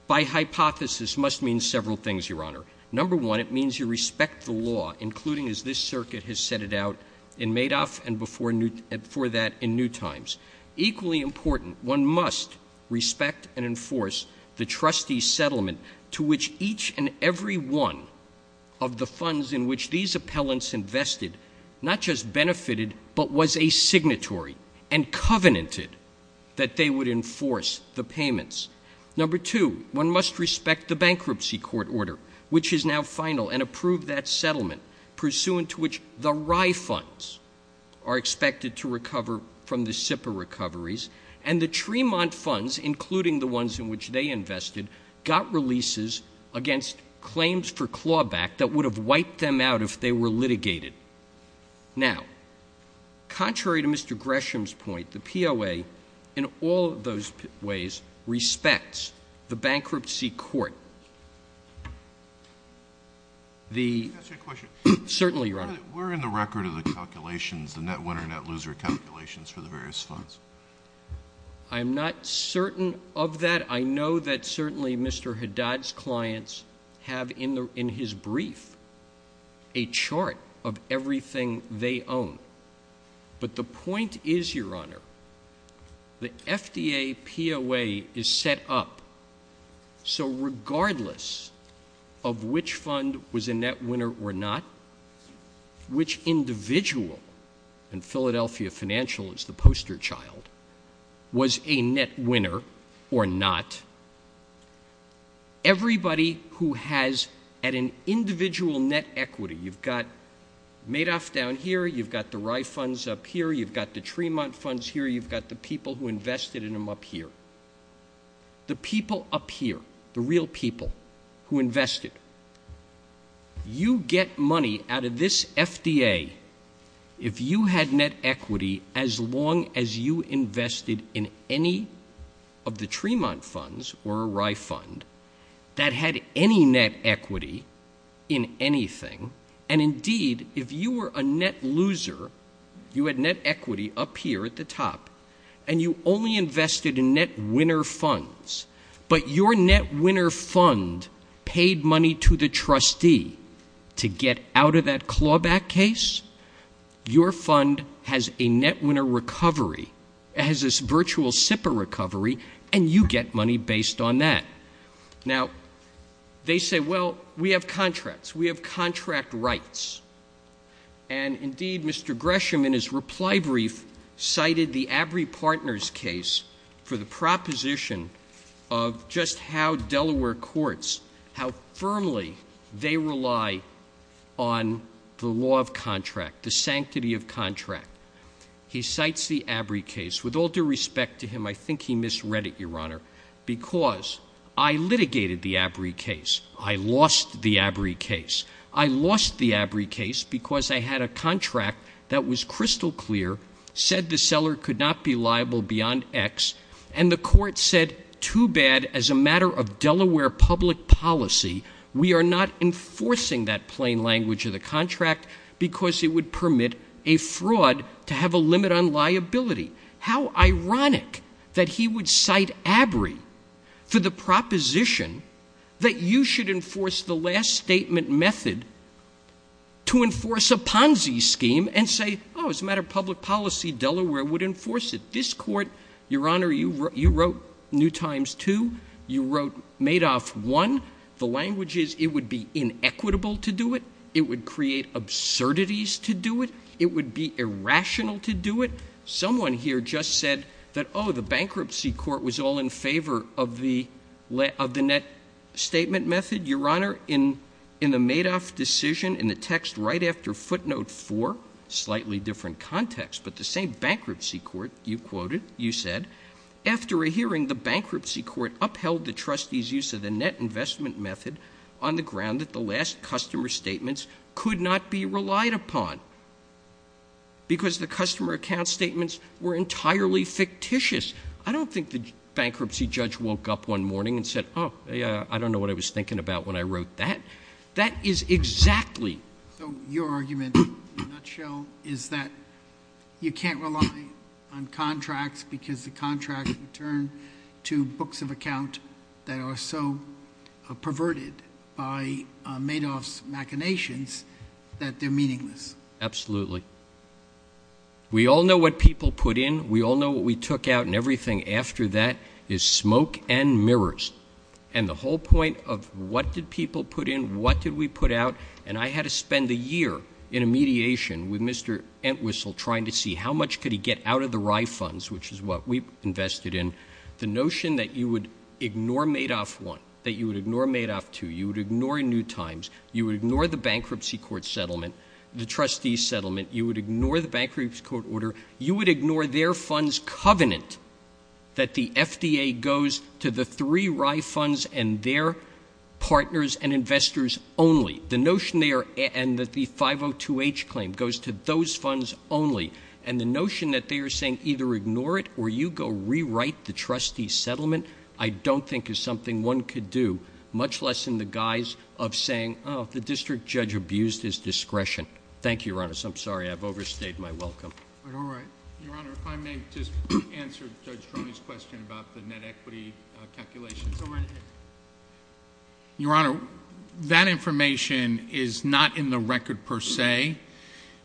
by hypothesis must mean several things, Your Honor. Number one, it means you respect the law, including as this circuit has set it out in Madoff and before that in Newtimes. Equally important, one must respect and enforce the trustee's settlement to which each and every one of the funds in which these appellants invested not just benefited but was a signatory and covenanted that they would enforce the payments. Number two, one must respect the bankruptcy court order, which is now final, and approve that settlement, pursuant to which the Rye funds are expected to recover from the SIPA recoveries and the Tremont funds, including the ones in which they invested, got releases against claims for clawback that would have wiped them out if they were litigated. Now, contrary to Mr. Gresham's point, the POA in all of those ways respects the bankruptcy court. Certainly, Your Honor. We're in the record of the calculations, the net winner, net loser calculations for the various funds. I'm not certain of that. I know that certainly Mr. Haddad's clients have in his brief a chart of everything they own. But the point is, Your Honor, the FDA POA is set up so regardless of which fund was a net winner or not, which individual in Philadelphia Financials, the poster child, was a net winner or not, everybody who has an individual net equity, you've got Madoff down here, you've got the Rye funds up here, you've got the Tremont funds here, you've got the people who invested in them up here. The people up here, the real people who invested, you get money out of this FDA if you had net equity as long as you invested in any of the Tremont funds or a Rye fund that had any net equity in anything. And indeed, if you were a net loser, you had net equity up here at the top and you only invested in net winner funds. But your net winner fund paid money to the trustee to get out of that clawback case. Your fund has a net winner recovery. It has this virtual SIPA recovery and you get money based on that. Now they say, well, we have contracts. We have contract rights. And indeed, Mr. Gresham in his reply brief cited the Avery Partners case for the proposition of just how Delaware courts, how firmly they rely on the law of contract, the sanctity of contract. He cites the Avery case. With all due respect to him, I think he misread it, Your Honor, because I litigated the Avery case. I lost the Avery case. I lost the Avery case because I had a contract that was crystal clear, said the seller could not be liable beyond X and the court said, too bad, as a matter of Delaware public policy, we are not enforcing that plain language of the contract because it would permit a fraud to have a limit on liability. How ironic that he would cite Avery for the proposition that you should enforce the last statement method to enforce a Ponzi scheme and say, oh, as a matter of public policy, Delaware would enforce it. This court, Your Honor, you wrote New Times 2. You wrote Madoff 1. The language is it would be inequitable to do it. It would create absurdities to do it. It would be irrational to do it. Someone here just said that, oh, the bankruptcy court was all in favor of the net statement method. Your Honor, in the Madoff decision, in the text right after footnote 4, slightly different context, but the same bankruptcy court, you quoted, you said, after a hearing, the bankruptcy court upheld the trustees' use of the net investment method on the ground that the last customer statements could not be relied upon because the customer account statements were entirely fictitious. I don't think the bankruptcy judge woke up one morning and said, oh, I don't know what I was thinking about when I wrote that. That is exactly... Your argument, in a nutshell, is that you can't rely on contracts because the contracts return to books of account that are so perverted by Madoff's machinations that they're meaningless. Absolutely. We all know what people put in. We all know what we took out and everything after that is smoke and mirrors. And the whole point of what did people put in, what did we put out, and I had to spend a year in a mediation with Mr. Entwistle trying to see how much could he get out of the Rye funds, which is what we invested in. The notion that you would ignore Madoff 1, that you would ignore Madoff 2, you would ignore Newtimes, you would ignore the bankruptcy court settlement, the trustees' settlement, you would ignore the bankruptcy court order, you would ignore their funds covenant that the FDA goes to the three Rye funds and their partners and investors only. The notion there and that the 502H claim goes to those funds only. And the notion that they are saying either ignore it or you go rewrite the trustees' settlement, I don't think is something one could do, much less in the guise of saying, oh, the district judge abused his discretion. Thank you, Your Honor. I'm sorry, I've overstayed my welcome. All right. Your Honor, if I may just answer Judge Cronin's question about the net equity calculations. All right. Your Honor, that information is not in the record per se.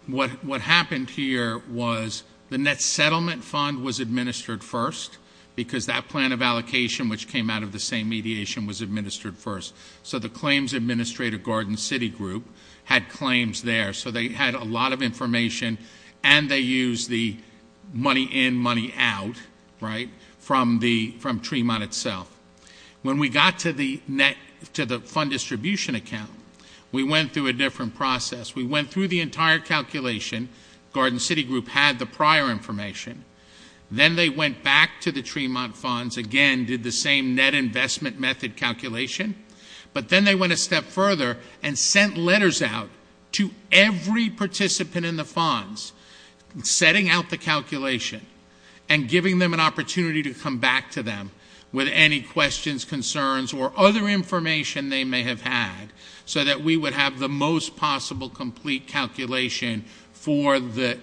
What happened here was the net settlement fund was administered first because that plan of allocation which came out of the same mediation was administered first. So the claims administrator, Garden City Group, had claims there. So they had a lot of information and they used the money in, money out, right, from Tremont itself. When we got to the fund distribution account, we went through a different process. We went through the entire calculation. Garden City Group had the prior information. Then they went back to the Tremont funds, again, did the same net investment method calculation. But then they went a step further and sent letters out to every participant in the funds, setting out the calculation and giving them an opportunity to come back to them with any questions, concerns, or other information they may have had so that we would have the most possible complete calculation for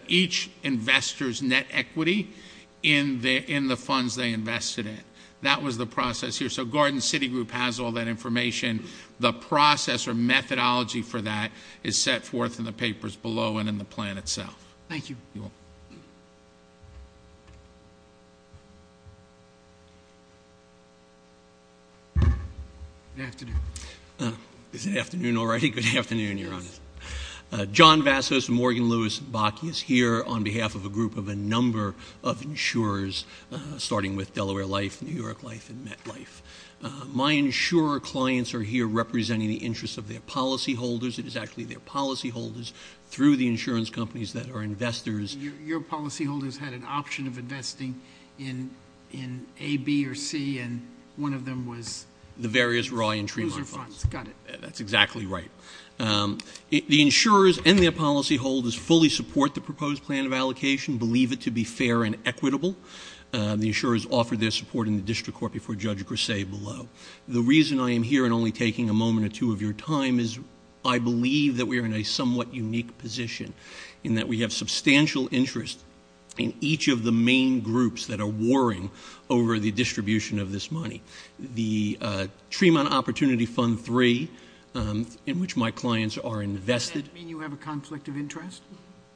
each investor's net equity in the funds they invested in. That was the process here. So Garden City Group has all that information. The process or methodology for that is set forth in the papers below and in the plan itself. Thank you. Good afternoon. Good afternoon already. Good afternoon, Your Honor. John Vassos and Morgan Lewis-Bakke is here on behalf of a group of a number of insurers, starting with Delaware Life, New York Life, and MetLife. My insurer clients are here representing the interests of their policyholders. It is actually their policyholders through the insurance companies that are investors. Your policyholders had an option of investing in A, B, or C, and one of them was the Tremont funds. That's exactly right. The insurers and their policyholders fully support the proposed plan of allocation, believe it to be fair and equitable. The insurers offered their support in the district court before Judge Grisey below. The reason I am here and only taking a moment or two of your time is I believe that we are in a somewhat unique position in that we have substantial interest in each of the main groups that are warring over the distribution of this money. The Tremont Opportunity Fund 3, in which my clients are invested. Does that mean you have a conflict of interest?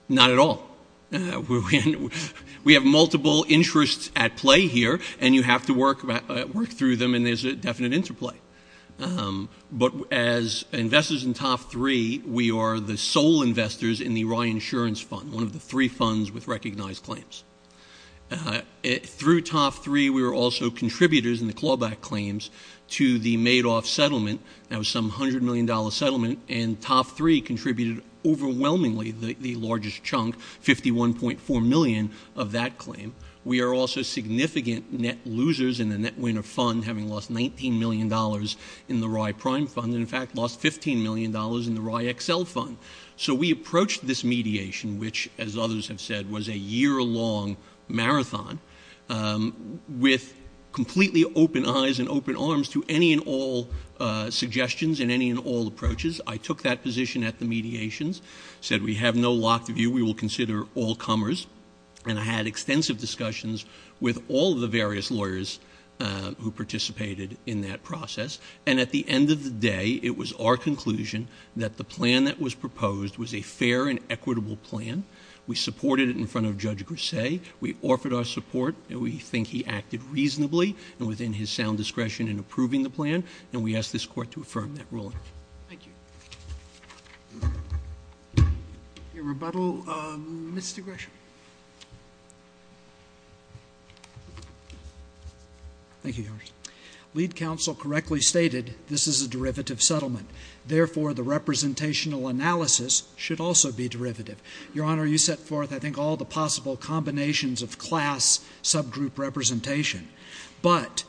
Not at all. We have multiple interests at play here and you have to work through them and there is a definite interplay. But as investors in top three, we are the sole investors in the Ryan Insurance Fund, one of the three funds with recognized claims. Through top three, we are also contributors in the clawback claims to the Madoff settlement. That was some $100 million settlement and top three contributed overwhelmingly the largest chunk, $51.4 million of that claim. We are also significant net losers in the Net Winner Fund, having lost $19 million in the Rye Prime Fund and in fact lost $15 million in the Rye Excel Fund. So we approached this mediation which, as others have said, was a year-long marathon with completely open eyes and open arms to any and all suggestions and any and all approaches. I took that position at the mediations, said, we have no lock of you, we will consider all comers. And I had extensive discussions with all of the various lawyers who participated in that process. And at the end of the day, it was our conclusion that the plan that was proposed was a fair and equitable plan. We supported it in front of Judge Grisey. We offered our support. We think he acted reasonably and within his sound discretion in approving the plan. And we ask this Court to affirm that ruling. Your rebuttal, Mr. Grisham. Thank you, Your Honor. Lead counsel correctly stated this is a derivative settlement. Therefore, the representational analysis should also be subgroup representation. But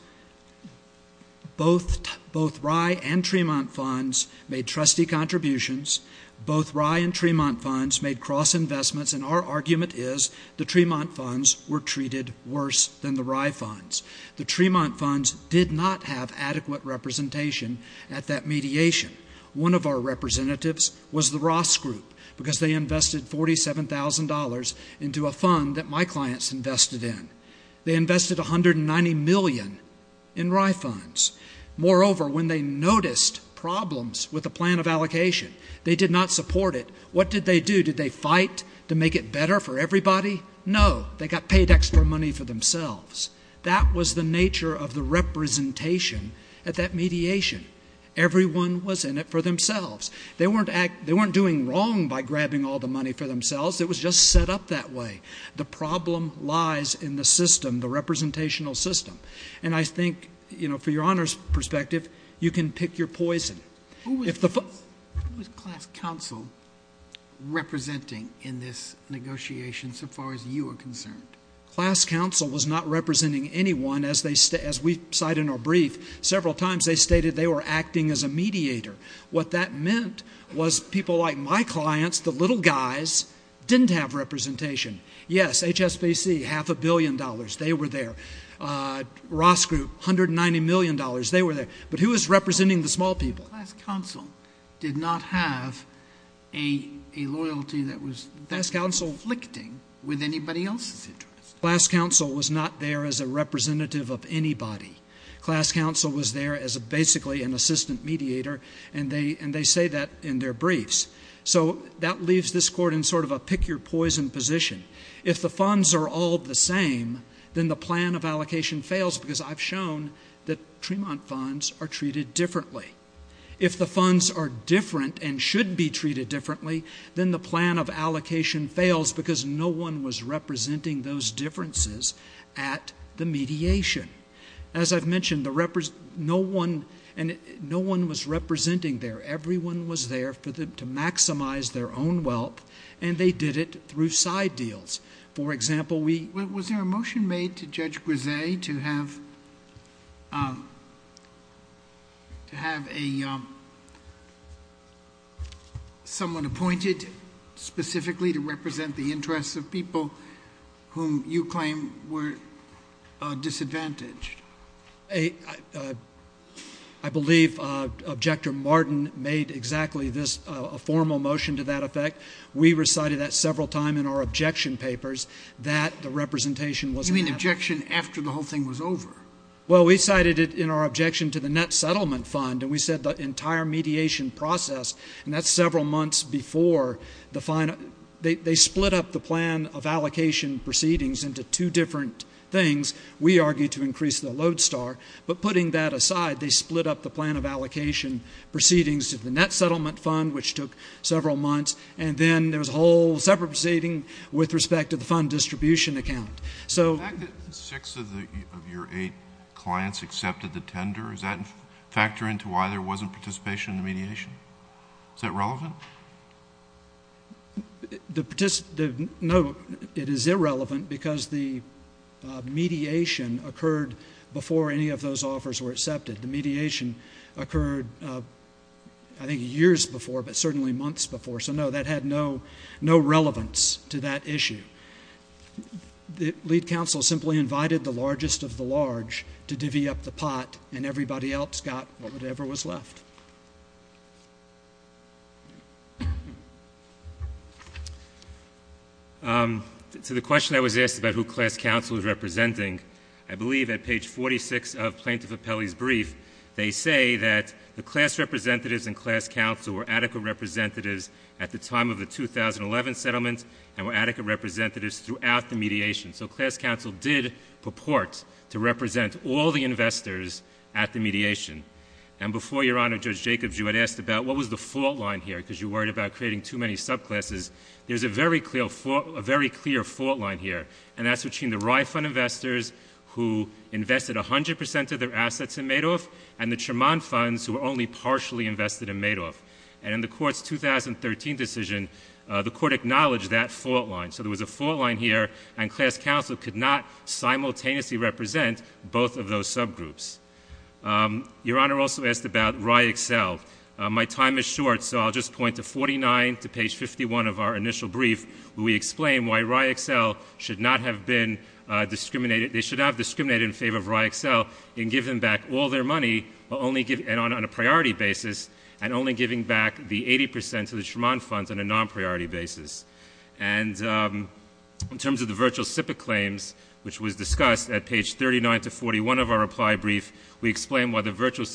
both Rye and Tremont funds made trustee contributions. Both Rye and Tremont funds made cross-investments. And our argument is the Tremont funds were treated worse than the Rye funds. The Tremont funds did not have adequate representation at that mediation. One of our representatives was the Ross Group because they invested $190 million in Rye funds. Moreover, when they noticed problems with the plan of allocation, they did not support it. What did they do? Did they fight to make it better for everybody? No. They got paybacks for money for themselves. That was the nature of the representation at that mediation. Everyone was in it for themselves. They weren't doing wrong by grabbing all the money for themselves. It was just set up that way. The problem lies in the system, the representational system. And I think, for Your Honor's perspective, you can pick your poison. Who was class counsel representing in this negotiation so far as you were concerned? Class counsel was not representing anyone as we cite in our brief. Several times they stated they were acting as a mediator. What that meant was people like my clients, the little guys, didn't have representation. Yes, HSBC, half a billion dollars, they were there. Ross Group, $190 million, they were there. But who was representing the small people? Class counsel did not have a loyalty that was class counsel-licting with anybody else's interests. Class counsel was not there as a representative of anybody. Class counsel was there as basically an assistant mediator and they say that in their briefs. So that leaves this court in sort of a pick-your-poison position. If the funds are all the same, then the plan of allocation fails because I've shown that Tremont funds are treated differently. If the funds are different and should be treated differently, then the plan of allocation fails because of the mediation. As I've mentioned, no one was representing there. Everyone was there to maximize their own wealth and they did it through side deals. For example, we- Was there a motion made to Judge Grise to have someone appointed specifically to represent the interests of people whom you claim were disadvantaged? I believe Objector Martin made exactly this, a formal motion to that effect. We recited that several times in our objection papers that the representation was- You mean objection after the whole thing was over? Well, we cited it in our objection to the net settlement fund and we said the entire mediation process, and that's several months before the final- They split up the plan of allocation proceedings into two different things. We argued to increase the load star, but putting that aside, they split up the plan of allocation proceedings of the net settlement fund, which took several months, and then there's a whole separate proceeding with respect to the fund distribution account. The fact that six of your eight clients accepted the tender, does that factor into why there wasn't participation in the mediation? Is that relevant? No, it is irrelevant because the mediation occurred before any of those offers were accepted. The mediation occurred, I think, years before, but certainly months before, so no, that had no relevance to that issue. Lead counsel simply invited the largest of the large to divvy up the pot and everybody else got whatever was left. So the question I was asked about who class counsel was representing, I believe at page 46 of Plaintiff Appellee's brief, they say that the class representatives and class counsel were adequate representatives at the time of the 2011 settlement and were adequate representatives throughout the mediation. So class counsel did purport to represent all the investors at the mediation. And before Your Honor, Judge Jacobs, you had asked about what was the fault line here, because you're worried about creating too many subclasses. There's a very clear fault line here, and that's between the Rye Fund investors who invested 100 percent of their assets in Madoff and the Tremont Funds who were only partially invested in Madoff. And in the Court's 2013 decision, the Court acknowledged that fault line. So there was a fault line here, and class counsel could not simultaneously represent both of those subgroups. Your Honor also asked about Rye Excel. My time is short, so I'll just point to 49 to page 51 of our initial brief, where we explain why Rye Excel should not have been discriminated — they should have discriminated in favor of Rye Excel in giving back all their money, but only on a priority basis, and only giving back the 80 percent to the Tremont Funds on a non-priority basis. And in terms of the virtual SIPC claims, which was discussed at page 39 to 41 of our reply brief, we explain why the virtual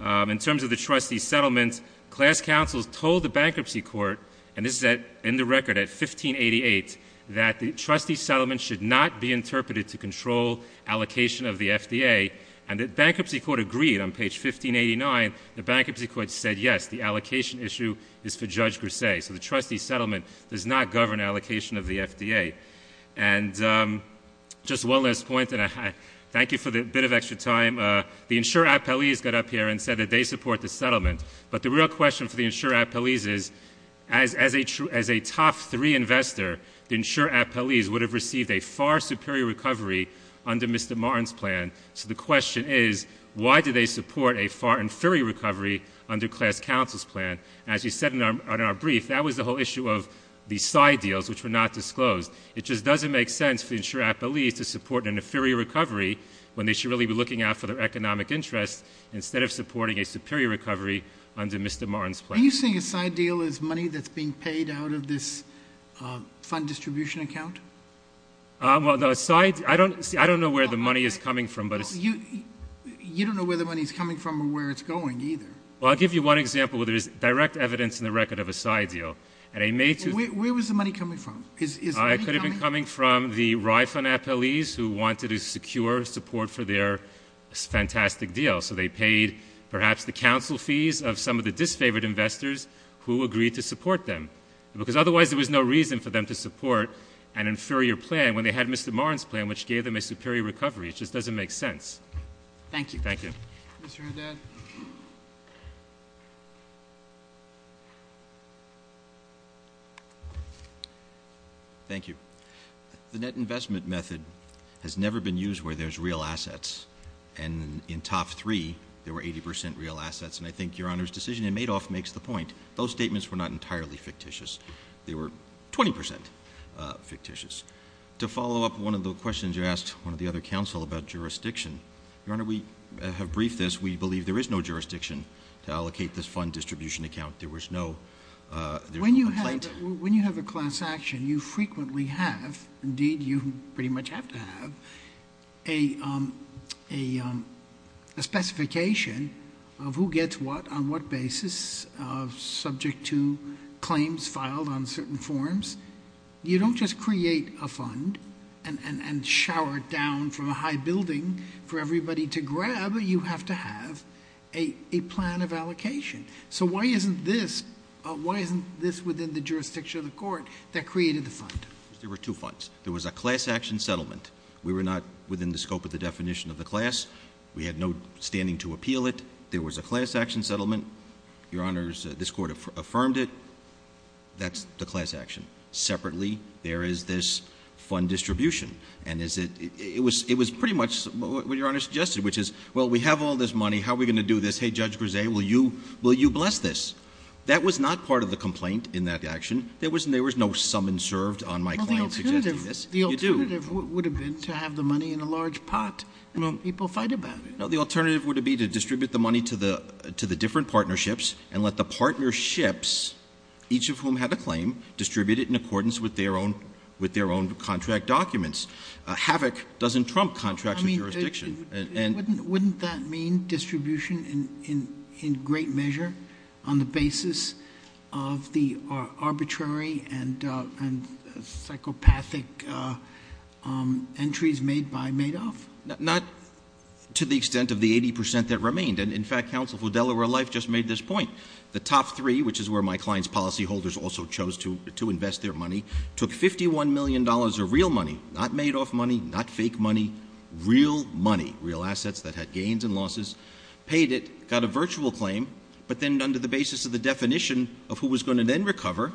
And in terms of the trustee settlements, class counsel told the bankruptcy court — and this is in the record at 1588 — that the trustee settlement should not be interpreted to control allocation of the FDA, and the bankruptcy court agreed. On page 1589, the bankruptcy court said, yes, the allocation issue is for Judge Grisey. So the trustee got up here and said that they support the settlement. But the real question for the insurer-at-police is, as a top three investor, the insurer-at-police would have received a far superior recovery under Mr. Martin's plan. So the question is, why do they support a far inferior recovery under class counsel's plan? As you said in our brief, that was the whole issue of the side deals, which were not disclosed. It just doesn't make sense to support an inferior recovery when they should really be looking out for their economic interest instead of supporting a superior recovery under Mr. Martin's plan. I don't know where the money is coming from. Well, I'll give you one example where there is direct evidence in the record of a side deal. Where was the money coming from? It could have been coming from the Rye Fund FLEs who wanted to secure support for their fantastic deal. So they paid perhaps the counsel fees of some of the disfavored investors who agreed to support them. Because otherwise there was no reason for them to support an inferior plan when they had Mr. Martin's plan, which gave them a superior recovery. It just doesn't make sense. Thank you. The net investment method has never been used where there's real assets. And in top three, there were 80 percent real assets. And I think Your Honor's decision in Madoff makes the point. Those statements were not entirely fictitious. They were 20 percent fictitious. To follow up one of the questions you asked on the other counsel about jurisdiction, Your Honor, we have agreed this. We believe there is no jurisdiction to allocate this fund distribution account. When you have a class action, you frequently have, indeed you pretty much have to have, a specification of who gets what on what basis subject to claims filed on certain forms. You don't just create a fund and shower it down from a high building for everybody to grab. You have to have a plan of allocation. So why isn't this within the jurisdiction of the Court that created the fund? There were two funds. There was a class action settlement. We were not within the scope of the definition of the class. We had no standing to appeal it. There was a class action settlement. Your Honor, this Court affirmed it. That's the class action. Separately, there is this fund distribution. It was pretty much what Your Honor suggested, which is, well, we have all this money. How are we going to do this? Hey, Judge Brzee, will you bless this? That was not part of the complaint in that action. There was no summons served on my claim. The alternative would have been to have the money in a large pot and let people fight about it. The alternative would have been to distribute the money to the different partnerships and let the partnerships, each of whom had a claim, distribute it in accordance with their own contract documents. Havoc doesn't trump contracts with jurisdiction. Wouldn't that mean distribution in great measure on the basis of the arbitrary and psychopathic entries made by Madoff? Not to the extent of the 80 percent that remained. And in fact, counsel for Delaware Life just made this point. The top three, which is where my client's policyholders also chose to invest their money, took $51 million of real money, not Madoff money, not fake money, real money, real assets that had gains and losses, paid it, got a virtual claim, but then under the basis of the definition of who was going to then recover,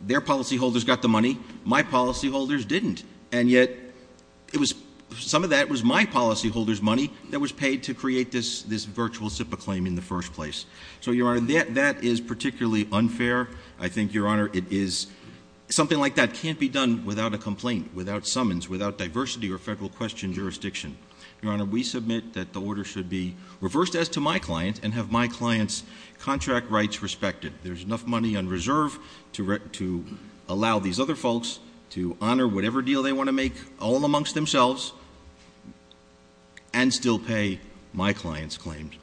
their policyholders got the money, my policyholders didn't. And yet some of that was my policyholders' money that was paid to create this virtual SIPA claim in the first place. So, Your Honor, that is particularly unfair. I think, Your Honor, something like that can't be done without a complaint, without summons, without diversity or federal question jurisdiction. Your Honor, we submit that the order should be reversed as to my client and have my client's contract rights respected. There's enough money on reserve to allow these other folks to honor whatever deal they want to make all amongst themselves and still pay my client's claims.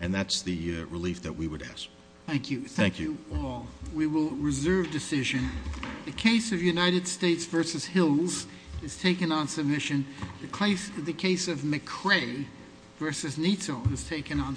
And that's the relief that we would ask. Thank you. Thank you, all. We will reserve decisions. The case of United States v. Hills is taken on submission. The case of McCrae v. Neato is taken on submission.